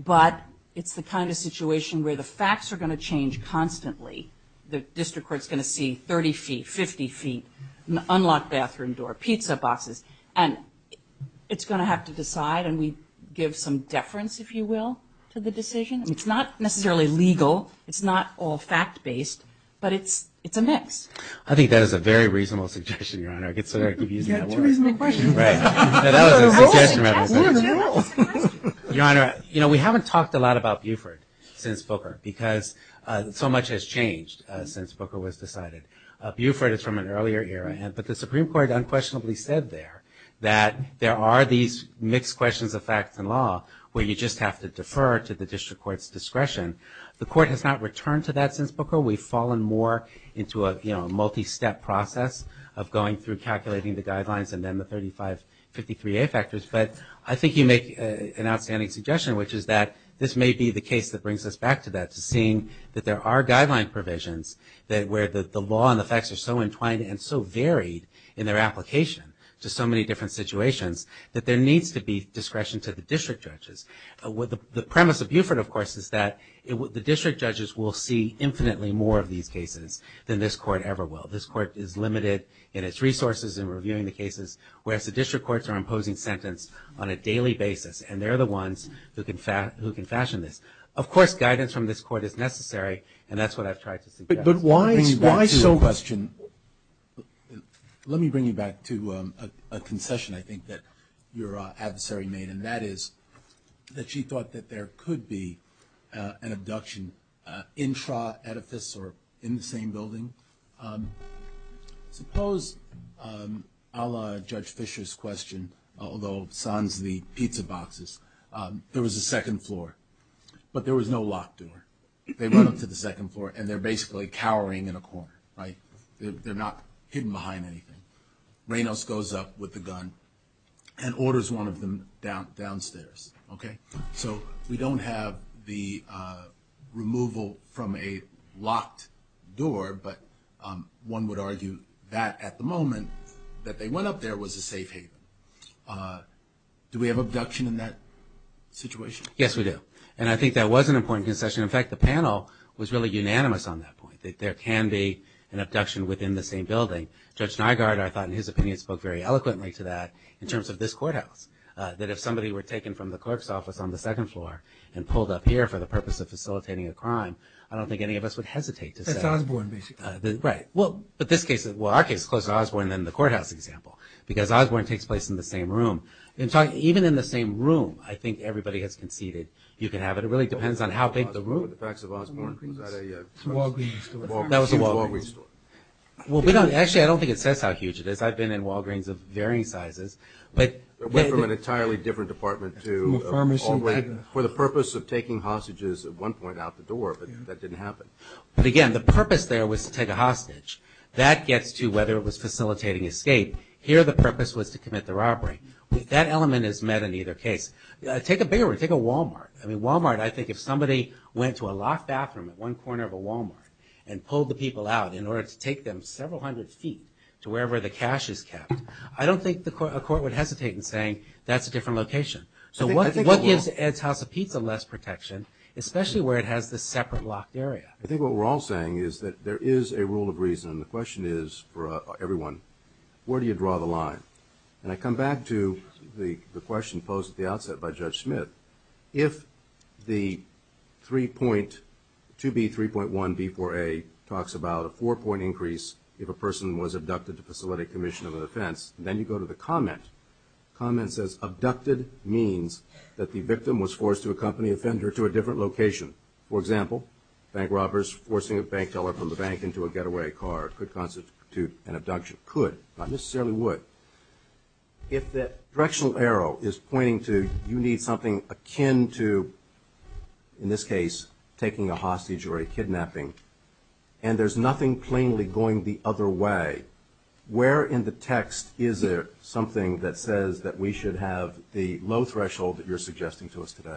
but it's the kind of situation where the facts are going to change constantly? The district court is going to see 30 feet, 50 feet, an unlocked bathroom door, pizza boxes, and it's going to have to decide, and we give some deference, if you will, to the decision? It's not necessarily legal. It's not all fact-based, but it's a mix. I think that is a very reasonable suggestion, Your Honor. Is that too reasonable a question? That was a suggestion. Your Honor, we haven't talked a lot about Buford since Booker because so much has changed since Booker was decided. Buford is from an earlier era, but the Supreme Court unquestionably said there that there are these mixed questions of facts and law where you just have to defer to the district court's discretion. The court has not returned to that since Booker. We've fallen more into a, you know, multi-step process of going through calculating the guidelines and then the 3553A factors. But I think you make an outstanding suggestion, which is that this may be the case that brings us back to that, to seeing that there are guideline provisions where the law and the facts are so entwined and so varied in their application to so many different situations that there needs to be discretion to the district judges. The premise of Buford, of course, is that the district judges will see infinitely more of these cases than this Court ever will. This Court is limited in its resources in reviewing the cases, whereas the district courts are imposing sentence on a daily basis, and they're the ones who can fashion this. Of course, guidance from this Court is necessary, and that's what I've tried to suggest. But why so? Let me bring you back to a concession, I think, that your adversary made, and that is that she thought that there could be an abduction intra edifice or in the same building. Suppose, a la Judge Fisher's question, although sans the pizza boxes, there was a second floor, but there was no lock door. They run up to the second floor, and they're basically cowering in a corner, right? They're not hidden behind anything. Reynolds goes up with the gun and orders one of them downstairs, okay? So we don't have the removal from a locked door, but one would argue that, at the moment, that they went up there was a safe haven. Do we have abduction in that situation? Yes, we do, and I think that was an important concession. In fact, the panel was really unanimous on that point, that there can be an abduction within the same building. Judge Nygaard, I thought, in his opinion, spoke very eloquently to that in terms of this courthouse, that if somebody were taken from the clerk's office on the second floor and pulled up here for the purpose of facilitating a crime, I don't think any of us would hesitate to say. That's Osborne, basically. Right. Well, our case is closer to Osborne than the courthouse example because Osborne takes place in the same room. Even in the same room, I think everybody has conceded you can have it. It really depends on how big the room is. The facts of Osborne, was that a Walgreens store? That was a Walgreens store. Actually, I don't think it says how huge it is. I've been in Walgreens of varying sizes. It went from an entirely different department to a Walgreens. From a pharmacy? For the purpose of taking hostages at one point out the door, but that didn't happen. But again, the purpose there was to take a hostage. That gets to whether it was facilitating escape. Here, the purpose was to commit the robbery. That element is met in either case. Take a bigger one. Take a Walmart. I mean, Walmart, I think if somebody went to a locked bathroom at one corner of a Walmart and pulled the people out in order to take them several hundred feet to wherever the cash is kept, I don't think a court would hesitate in saying, that's a different location. So what gives Ed's House of Pizza less protection, especially where it has this separate locked area? I think what we're all saying is that there is a rule of reason. The question is for everyone, where do you draw the line? And I come back to the question posed at the outset by Judge Smith. If the 2B3.1B4A talks about a four-point increase if a person was abducted to facilitate commission of an offense, then you go to the comment. The comment says, abducted means that the victim was forced to accompany the offender to a different location. For example, bank robbers forcing a bank teller from the bank into a getaway car could constitute an abduction. Could, not necessarily would. If that directional arrow is pointing to you need something akin to, in this case, taking a hostage or a kidnapping, and there's nothing plainly going the other way, where in the text is there something that says that we should have the low threshold that you're suggesting to us today?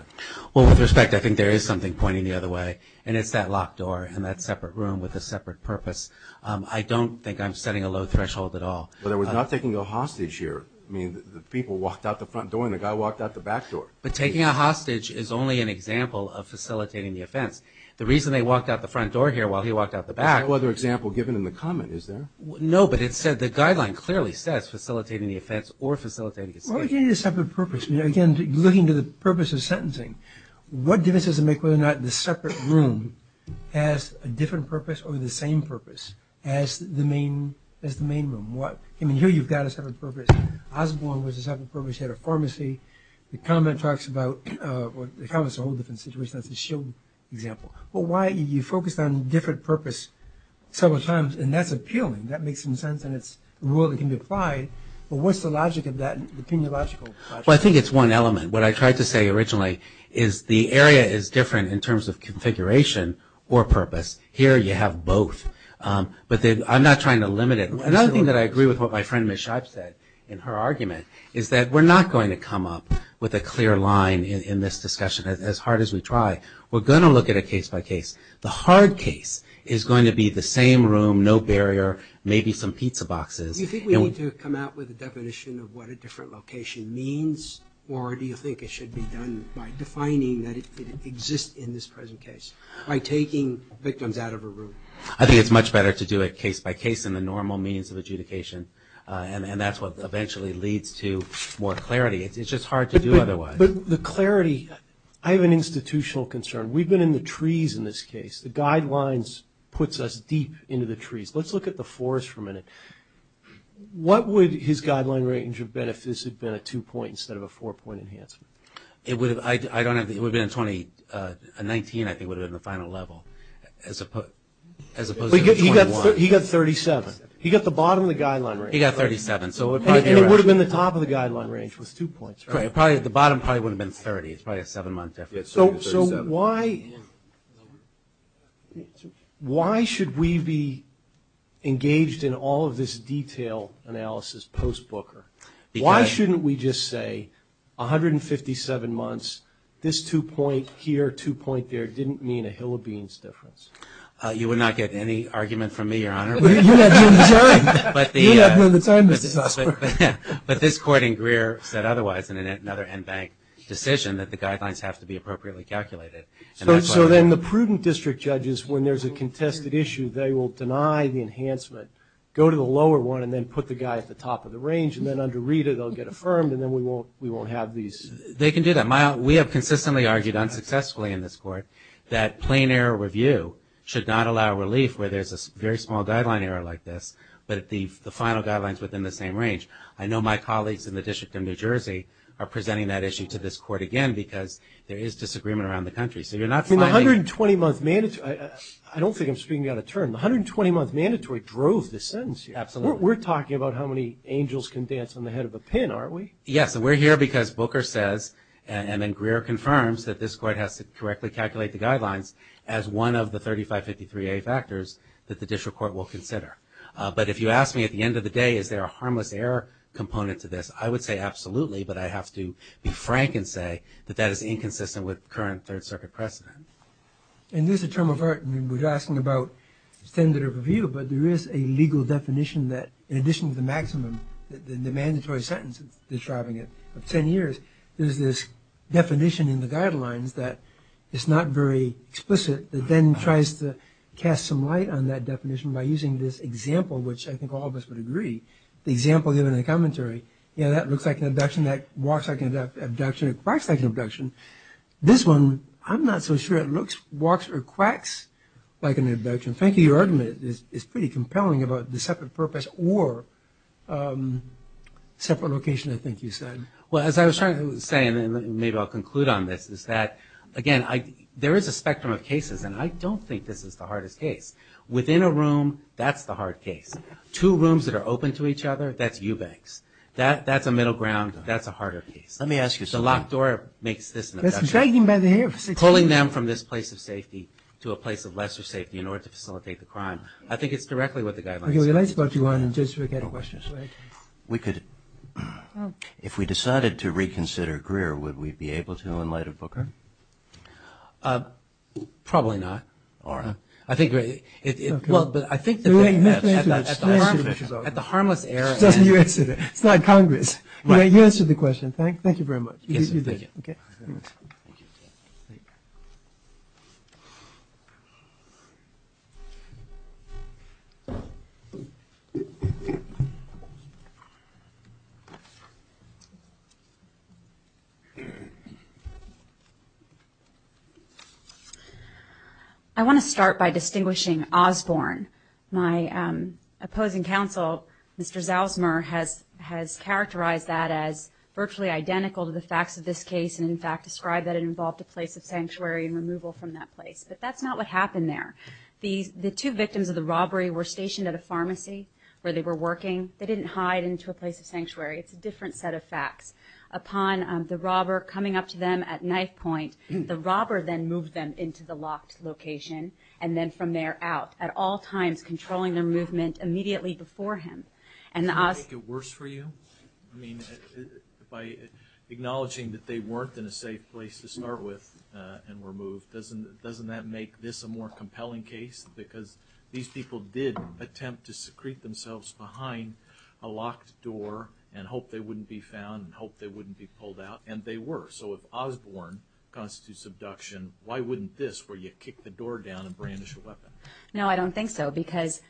Well, with respect, I think there is something pointing the other way, and it's that locked door and that separate room with a separate purpose. I don't think I'm setting a low threshold at all. But I was not taking a hostage here. I mean, the people walked out the front door and the guy walked out the back door. But taking a hostage is only an example of facilitating the offense. The reason they walked out the front door here while he walked out the back... There's no other example given in the comment, is there? No, but it said, the guideline clearly says facilitating the offense or facilitating the state. Well, it gave you a separate purpose. Again, looking to the purpose of sentencing, what difference does it make whether or not the separate room has a different purpose or the same purpose as the main room? I mean, here you've got a separate purpose. Osborne was a separate purpose. He had a pharmacy. The comment talks about... Well, the comment's a whole different situation. That's a shield example. But why... You focused on different purpose several times, and that's appealing. That makes some sense, and it's a rule that can be applied. But what's the logic of that, the epidemiological logic? Well, I think it's one element. What I tried to say originally is the area is different in terms of configuration or purpose. Here you have both. But I'm not trying to limit it. Another thing that I agree with what my friend Ms. Scheib said in her argument is that we're not going to come up with a clear line in this discussion as hard as we try. We're going to look at it case by case. The hard case is going to be the same room, no barrier, maybe some pizza boxes. Do you think we need to come out with a definition of what a different location means, or do you think it should be done by defining that it exists in this present case, by taking victims out of a room? I think it's much better to do it case by case than the normal means of adjudication, and that's what eventually leads to more clarity. It's just hard to do otherwise. But the clarity, I have an institutional concern. We've been in the trees in this case. The guidelines puts us deep into the trees. Let's look at the forest for a minute. What would his guideline range have been if this had been a two-point instead of a four-point enhancement? It would have been a 19, I think, would have been the final level, as opposed to a 21. He got 37. He got the bottom of the guideline range. He got 37. And it would have been the top of the guideline range with two points, right? The bottom probably wouldn't have been 30. It's probably a seven-month difference. So why should we be engaged in all of this detail analysis post-Booker? Why shouldn't we just say 157 months, this two-point here, two-point there didn't mean a hill of beans difference? You would not get any argument from me, Your Honor. You would have none of the time, Mr. Sussman. But this court in Greer said otherwise in another NBank decision that the guidelines have to be appropriately calculated. So then the prudent district judges, when there's a contested issue, they will deny the enhancement, go to the lower one, and then put the guy at the top of the range. And then under Rita, they'll get affirmed, and then we won't have these. They can do that. We have consistently argued unsuccessfully in this court that plain error review should not allow relief where there's a very small guideline error like this, but the final guideline is within the same range. I know my colleagues in the District of New Jersey are presenting that issue to this court again because there is disagreement around the country. So you're not finding – I mean, the 120-month mandatory – I don't think I'm speaking out of turn. The 120-month mandatory drove the sentence here. Absolutely. We're talking about how many angels can dance on the head of a pin, aren't we? Yes, and we're here because Booker says and then Greer confirms that this court has to correctly calculate the guidelines as one of the 3553A factors that the district court will consider. But if you ask me at the end of the day, is there a harmless error component to this, I would say absolutely, but I have to be frank and say that that is inconsistent with current Third Circuit precedent. And this is a term of art. I mean, we're asking about standard of review, but there is a legal definition that, in addition to the maximum, the mandatory sentence that's driving it, of 10 years, there's this definition in the guidelines that is not very explicit that then tries to cast some light on that definition by using this example which I think all of us would agree. The example given in the commentary, that looks like an abduction, that walks like an abduction, that quacks like an abduction. This one, I'm not so sure it looks, walks, or quacks like an abduction. Frankly, your argument is pretty compelling about the separate purpose or separate location, I think you said. Well, as I was trying to say, and maybe I'll conclude on this, is that, again, there is a spectrum of cases, and I don't think this is the hardest case. Within a room, that's the hard case. Two rooms that are open to each other, that's eubanks. That's a middle ground, that's a harder case. Let me ask you something. The locked door makes this an abduction. That's dragging by the hair. Pulling them from this place of safety to a place of lesser safety in order to facilitate the crime. I think it's directly what the guidelines say. Okay, well, let's go to one and just forget questions. We could, if we decided to reconsider Greer, would we be able to in light of Booker? Probably not. All right. I think, well, but I think at the harmless era. It's not Congress. You answered the question. Thank you very much. Yes, sir. Thank you. Okay. I want to start by distinguishing Osborne. My opposing counsel, Mr. Zalzmer, has characterized that as virtually identical to the facts of this case and, in fact, described that it involved a place of sanctuary and removal from that place. But that's not what happened there. The two victims of the robbery were stationed at a pharmacy where they were working. They didn't hide into a place of sanctuary. It's a different set of facts. Upon the robber coming up to them at knife point, the robber then moved them into the locked location and then from there out, at all times, controlling their movement immediately before him. And the Osborne. Did that make it worse for you? I mean, by acknowledging that they weren't in a safe place to start with and were moved, doesn't that make this a more compelling case? Because these people did attempt to secrete themselves behind a locked door and hoped they wouldn't be found and hoped they wouldn't be pulled out, and they were. So if Osborne constitutes abduction, why wouldn't this where you kick the door down and brandish a weapon? No, I don't think so, because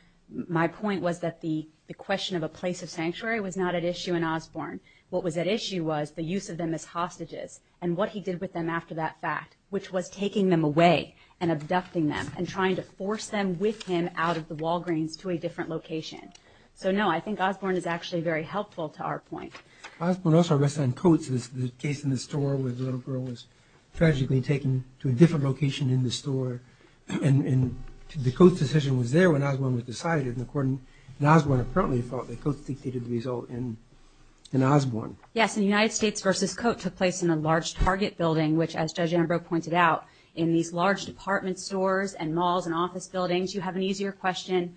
my point was that the question of a place of sanctuary was not at issue in Osborne. What was at issue was the use of them as hostages and what he did with them after that fact, which was taking them away and abducting them and trying to force them with him out of the Walgreens to a different location. So, no, I think Osborne is actually very helpful to our point. Osborne also arrested on coats, the case in the store where the little girl was tragically taken to a different location in the store, and the coat decision was there when Osborne was decided, and Osborne apparently felt that coats dictated the result in Osborne. Yes, and United States v. Coat took place in a large Target building, which, as Judge Ambrose pointed out, in these large department stores and malls and office buildings, you have an easier question,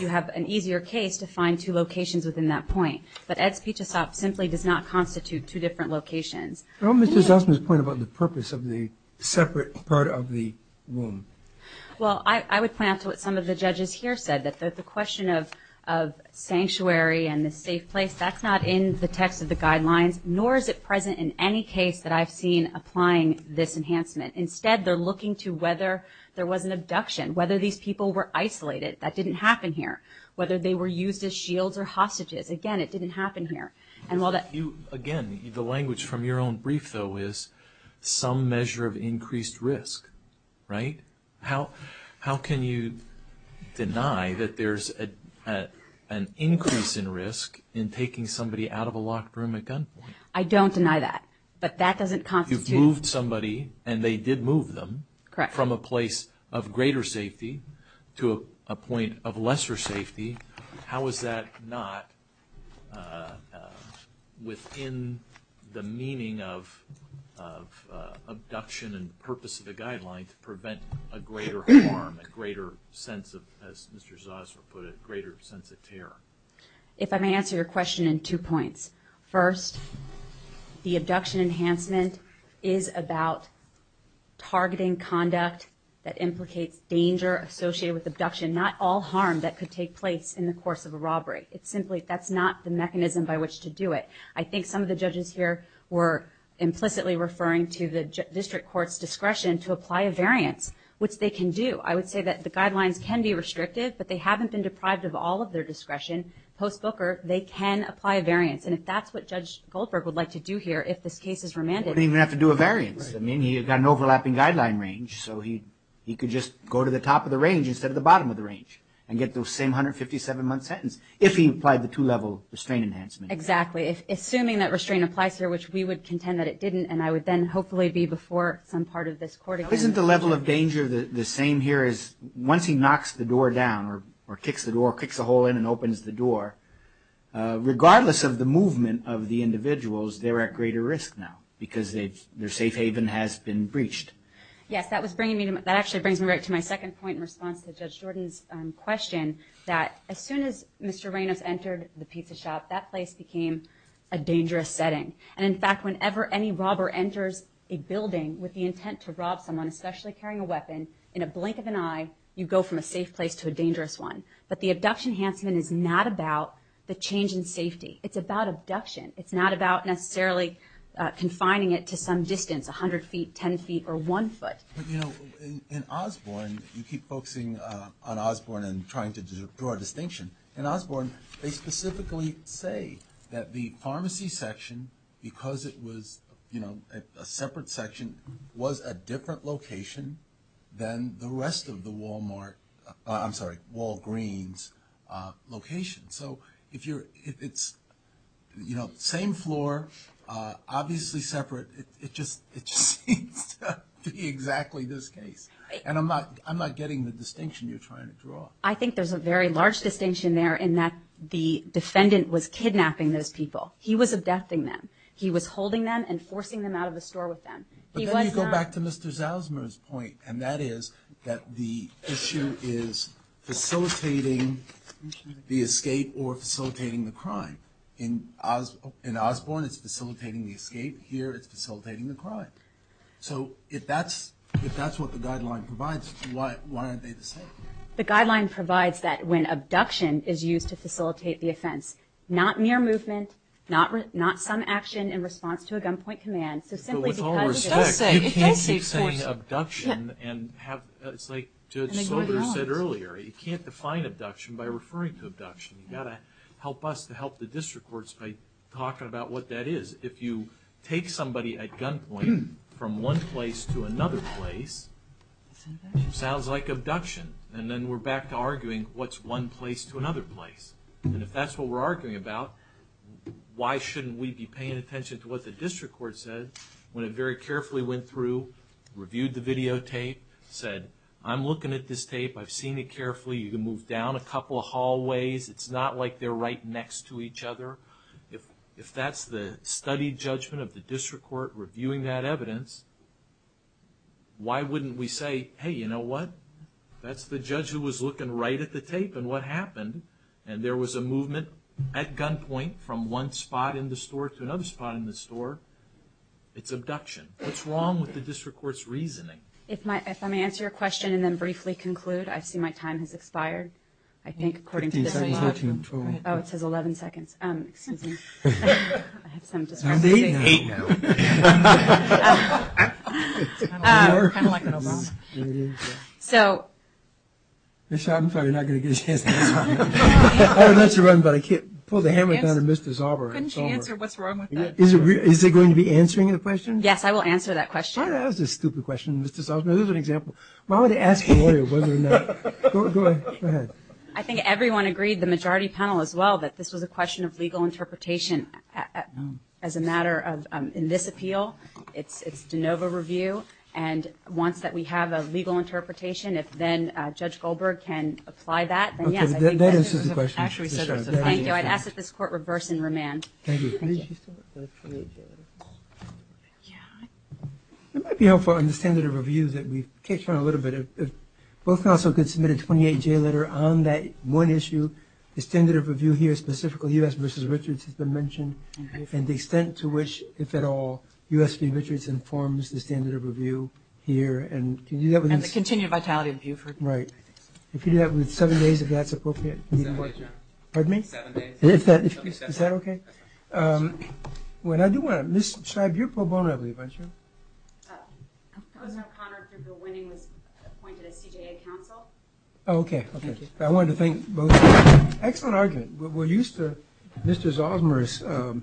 you have an easier case to find two locations within that point. But Ed's Pitch-a-Sop simply does not constitute two different locations. How about Mr. Zussman's point about the purpose of the separate part of the womb? Well, I would point out to what some of the judges here said, that the question of sanctuary and the safe place, that's not in the text of the guidelines, nor is it present in any case that I've seen applying this enhancement. Instead, they're looking to whether there was an abduction, whether these people were isolated. That didn't happen here. Whether they were used as shields or hostages. Again, it didn't happen here. Again, the language from your own brief, though, is some measure of increased risk, right? How can you deny that there's an increase in risk in taking somebody out of a locked room at gunpoint? I don't deny that, but that doesn't constitute... You've moved somebody, and they did move them, from a place of greater safety to a point of lesser safety. How is that not within the meaning of abduction and purpose of the guidelines to prevent a greater harm, a greater sense of, as Mr. Zossler put it, a greater sense of terror? If I may answer your question in two points. First, the abduction enhancement is about targeting conduct that implicates danger associated with abduction, not all harm that could take place in the course of a robbery. That's not the mechanism by which to do it. I think some of the judges here were implicitly referring to the district court's discretion to apply a variance, which they can do. I would say that the guidelines can be restrictive, but they haven't been deprived of all of their discretion. Post-Booker, they can apply a variance, and if that's what Judge Goldberg would like to do here, if this case is remanded... He wouldn't even have to do a variance. He's got an overlapping guideline range, so he could just go to the top of the range instead of the bottom of the range and get the same 157-month sentence if he applied the two-level restraint enhancement. Exactly. Assuming that restraint applies here, which we would contend that it didn't, and I would then hopefully be before some part of this court again... Isn't the level of danger the same here as once he knocks the door down or kicks the door, kicks a hole in and opens the door? Regardless of the movement of the individuals, they're at greater risk now because their safe haven has been breached. Yes, that actually brings me right to my second point in response to Judge Jordan's question, that as soon as Mr. Reynos entered the pizza shop, that place became a dangerous setting. And in fact, whenever any robber enters a building with the intent to rob someone, especially carrying a weapon, in a blink of an eye, you go from a safe place to a dangerous one. But the abduction enhancement is not about the change in safety. It's about abduction. It's not about necessarily confining it to some distance, 100 feet, 10 feet, or one foot. But, you know, in Osborne, you keep focusing on Osborne and trying to draw a distinction. In Osborne, they specifically say that the pharmacy section, because it was, you know, a separate section, was a different location than the rest of the Walmart... I'm sorry, Walgreens location. So, if you're... It's, you know, same floor, obviously separate. It just seems to be exactly this case. And I'm not getting the distinction you're trying to draw. I think there's a very large distinction there in that the defendant was kidnapping those people. He was abducting them. He was holding them and forcing them out of the store with them. But then you go back to Mr. Zalzmer's point, and that is that the issue is facilitating the escape or facilitating the crime. In Osborne, it's facilitating the escape. Here, it's facilitating the crime. So, if that's what the guideline provides, why aren't they the same? The guideline provides that when abduction is used to facilitate the offense, not near movement, not some action in response to a gunpoint command, so simply because... But with all respect, you can't keep saying abduction and have... It's like Judge Soder said earlier. You can't define abduction by referring to abduction. You've got to help us to help the district courts by talking about what that is. If you take somebody at gunpoint from one place to another place, it sounds like abduction. And then we're back to arguing, what's one place to another place? And if that's what we're arguing about, why shouldn't we be paying attention to what the district court said when it very carefully went through, reviewed the videotape, said, I'm looking at this tape. I've seen it carefully. You can move down a couple of hallways. It's not like they're right next to each other. If that's the studied judgment of the district court reviewing that evidence, why wouldn't we say, hey, you know what? That's the judge who was looking right at the tape and what happened. And there was a movement at gunpoint from one spot in the store to another spot in the store. It's abduction. What's wrong with the district court's reasoning? If I may answer your question and then briefly conclude. I see my time has expired. I think according to the... Fifteen seconds left. Oh, it says 11 seconds. Excuse me. I have some discrepancy. I'm eight now. Eight now. It's kind of like an Obama. So... I'm probably not going to get a chance to answer that. I would love to run, but I can't pull the hammer down on Mr. Zauber. Couldn't she answer what's wrong with that? Is it going to be answering the question? Yes, I will answer that question. That was a stupid question, Mr. Zauber. This is an example. Why would they ask a lawyer whether or not... Go ahead. I think everyone agreed the majority panel as well that this was a question of legal interpretation as a matter of, in this appeal, it's de novo review and once that we have a legal interpretation, if then Judge Goldberg can apply that. That answers the question. Thank you. I'd ask that this court reverse and remand. Thank you. It might be helpful to understand the reviews that we've touched on a little bit. If both counsel could submit a 28-J letter on that one issue, the standard of review here, specifically U.S. v. Richards has been mentioned and the extent to which, if at all, U.S. v. Richards informs the standard of review here. And the continued vitality of Buford. Right. If you do that within seven days, if that's appropriate. Seven days, yeah. Pardon me? Seven days. Is that okay? That's fine. When I do want to... Ms. Scheib, you're pro bono, I believe, aren't you? I was not connered if the winning was appointed as CJA counsel. Oh, okay, okay. I wanted to thank both of you. Excellent argument. We're used to Mr. Zalzmer's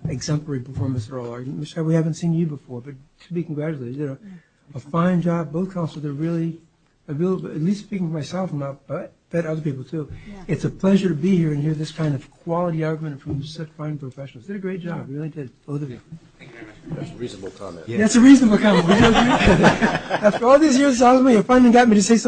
exemplary performance in oral arguments. We haven't seen you before, but to be congratulated. You did a fine job. Both counsels are really, at least speaking for myself, and I've met other people too, it's a pleasure to be here and hear this kind of quality argument from such fine professionals. You did a great job. You really did. Both of you. Thank you very much. That's a reasonable comment. That's a reasonable comment. After all these years with Zalzmer, you finally got me to say something.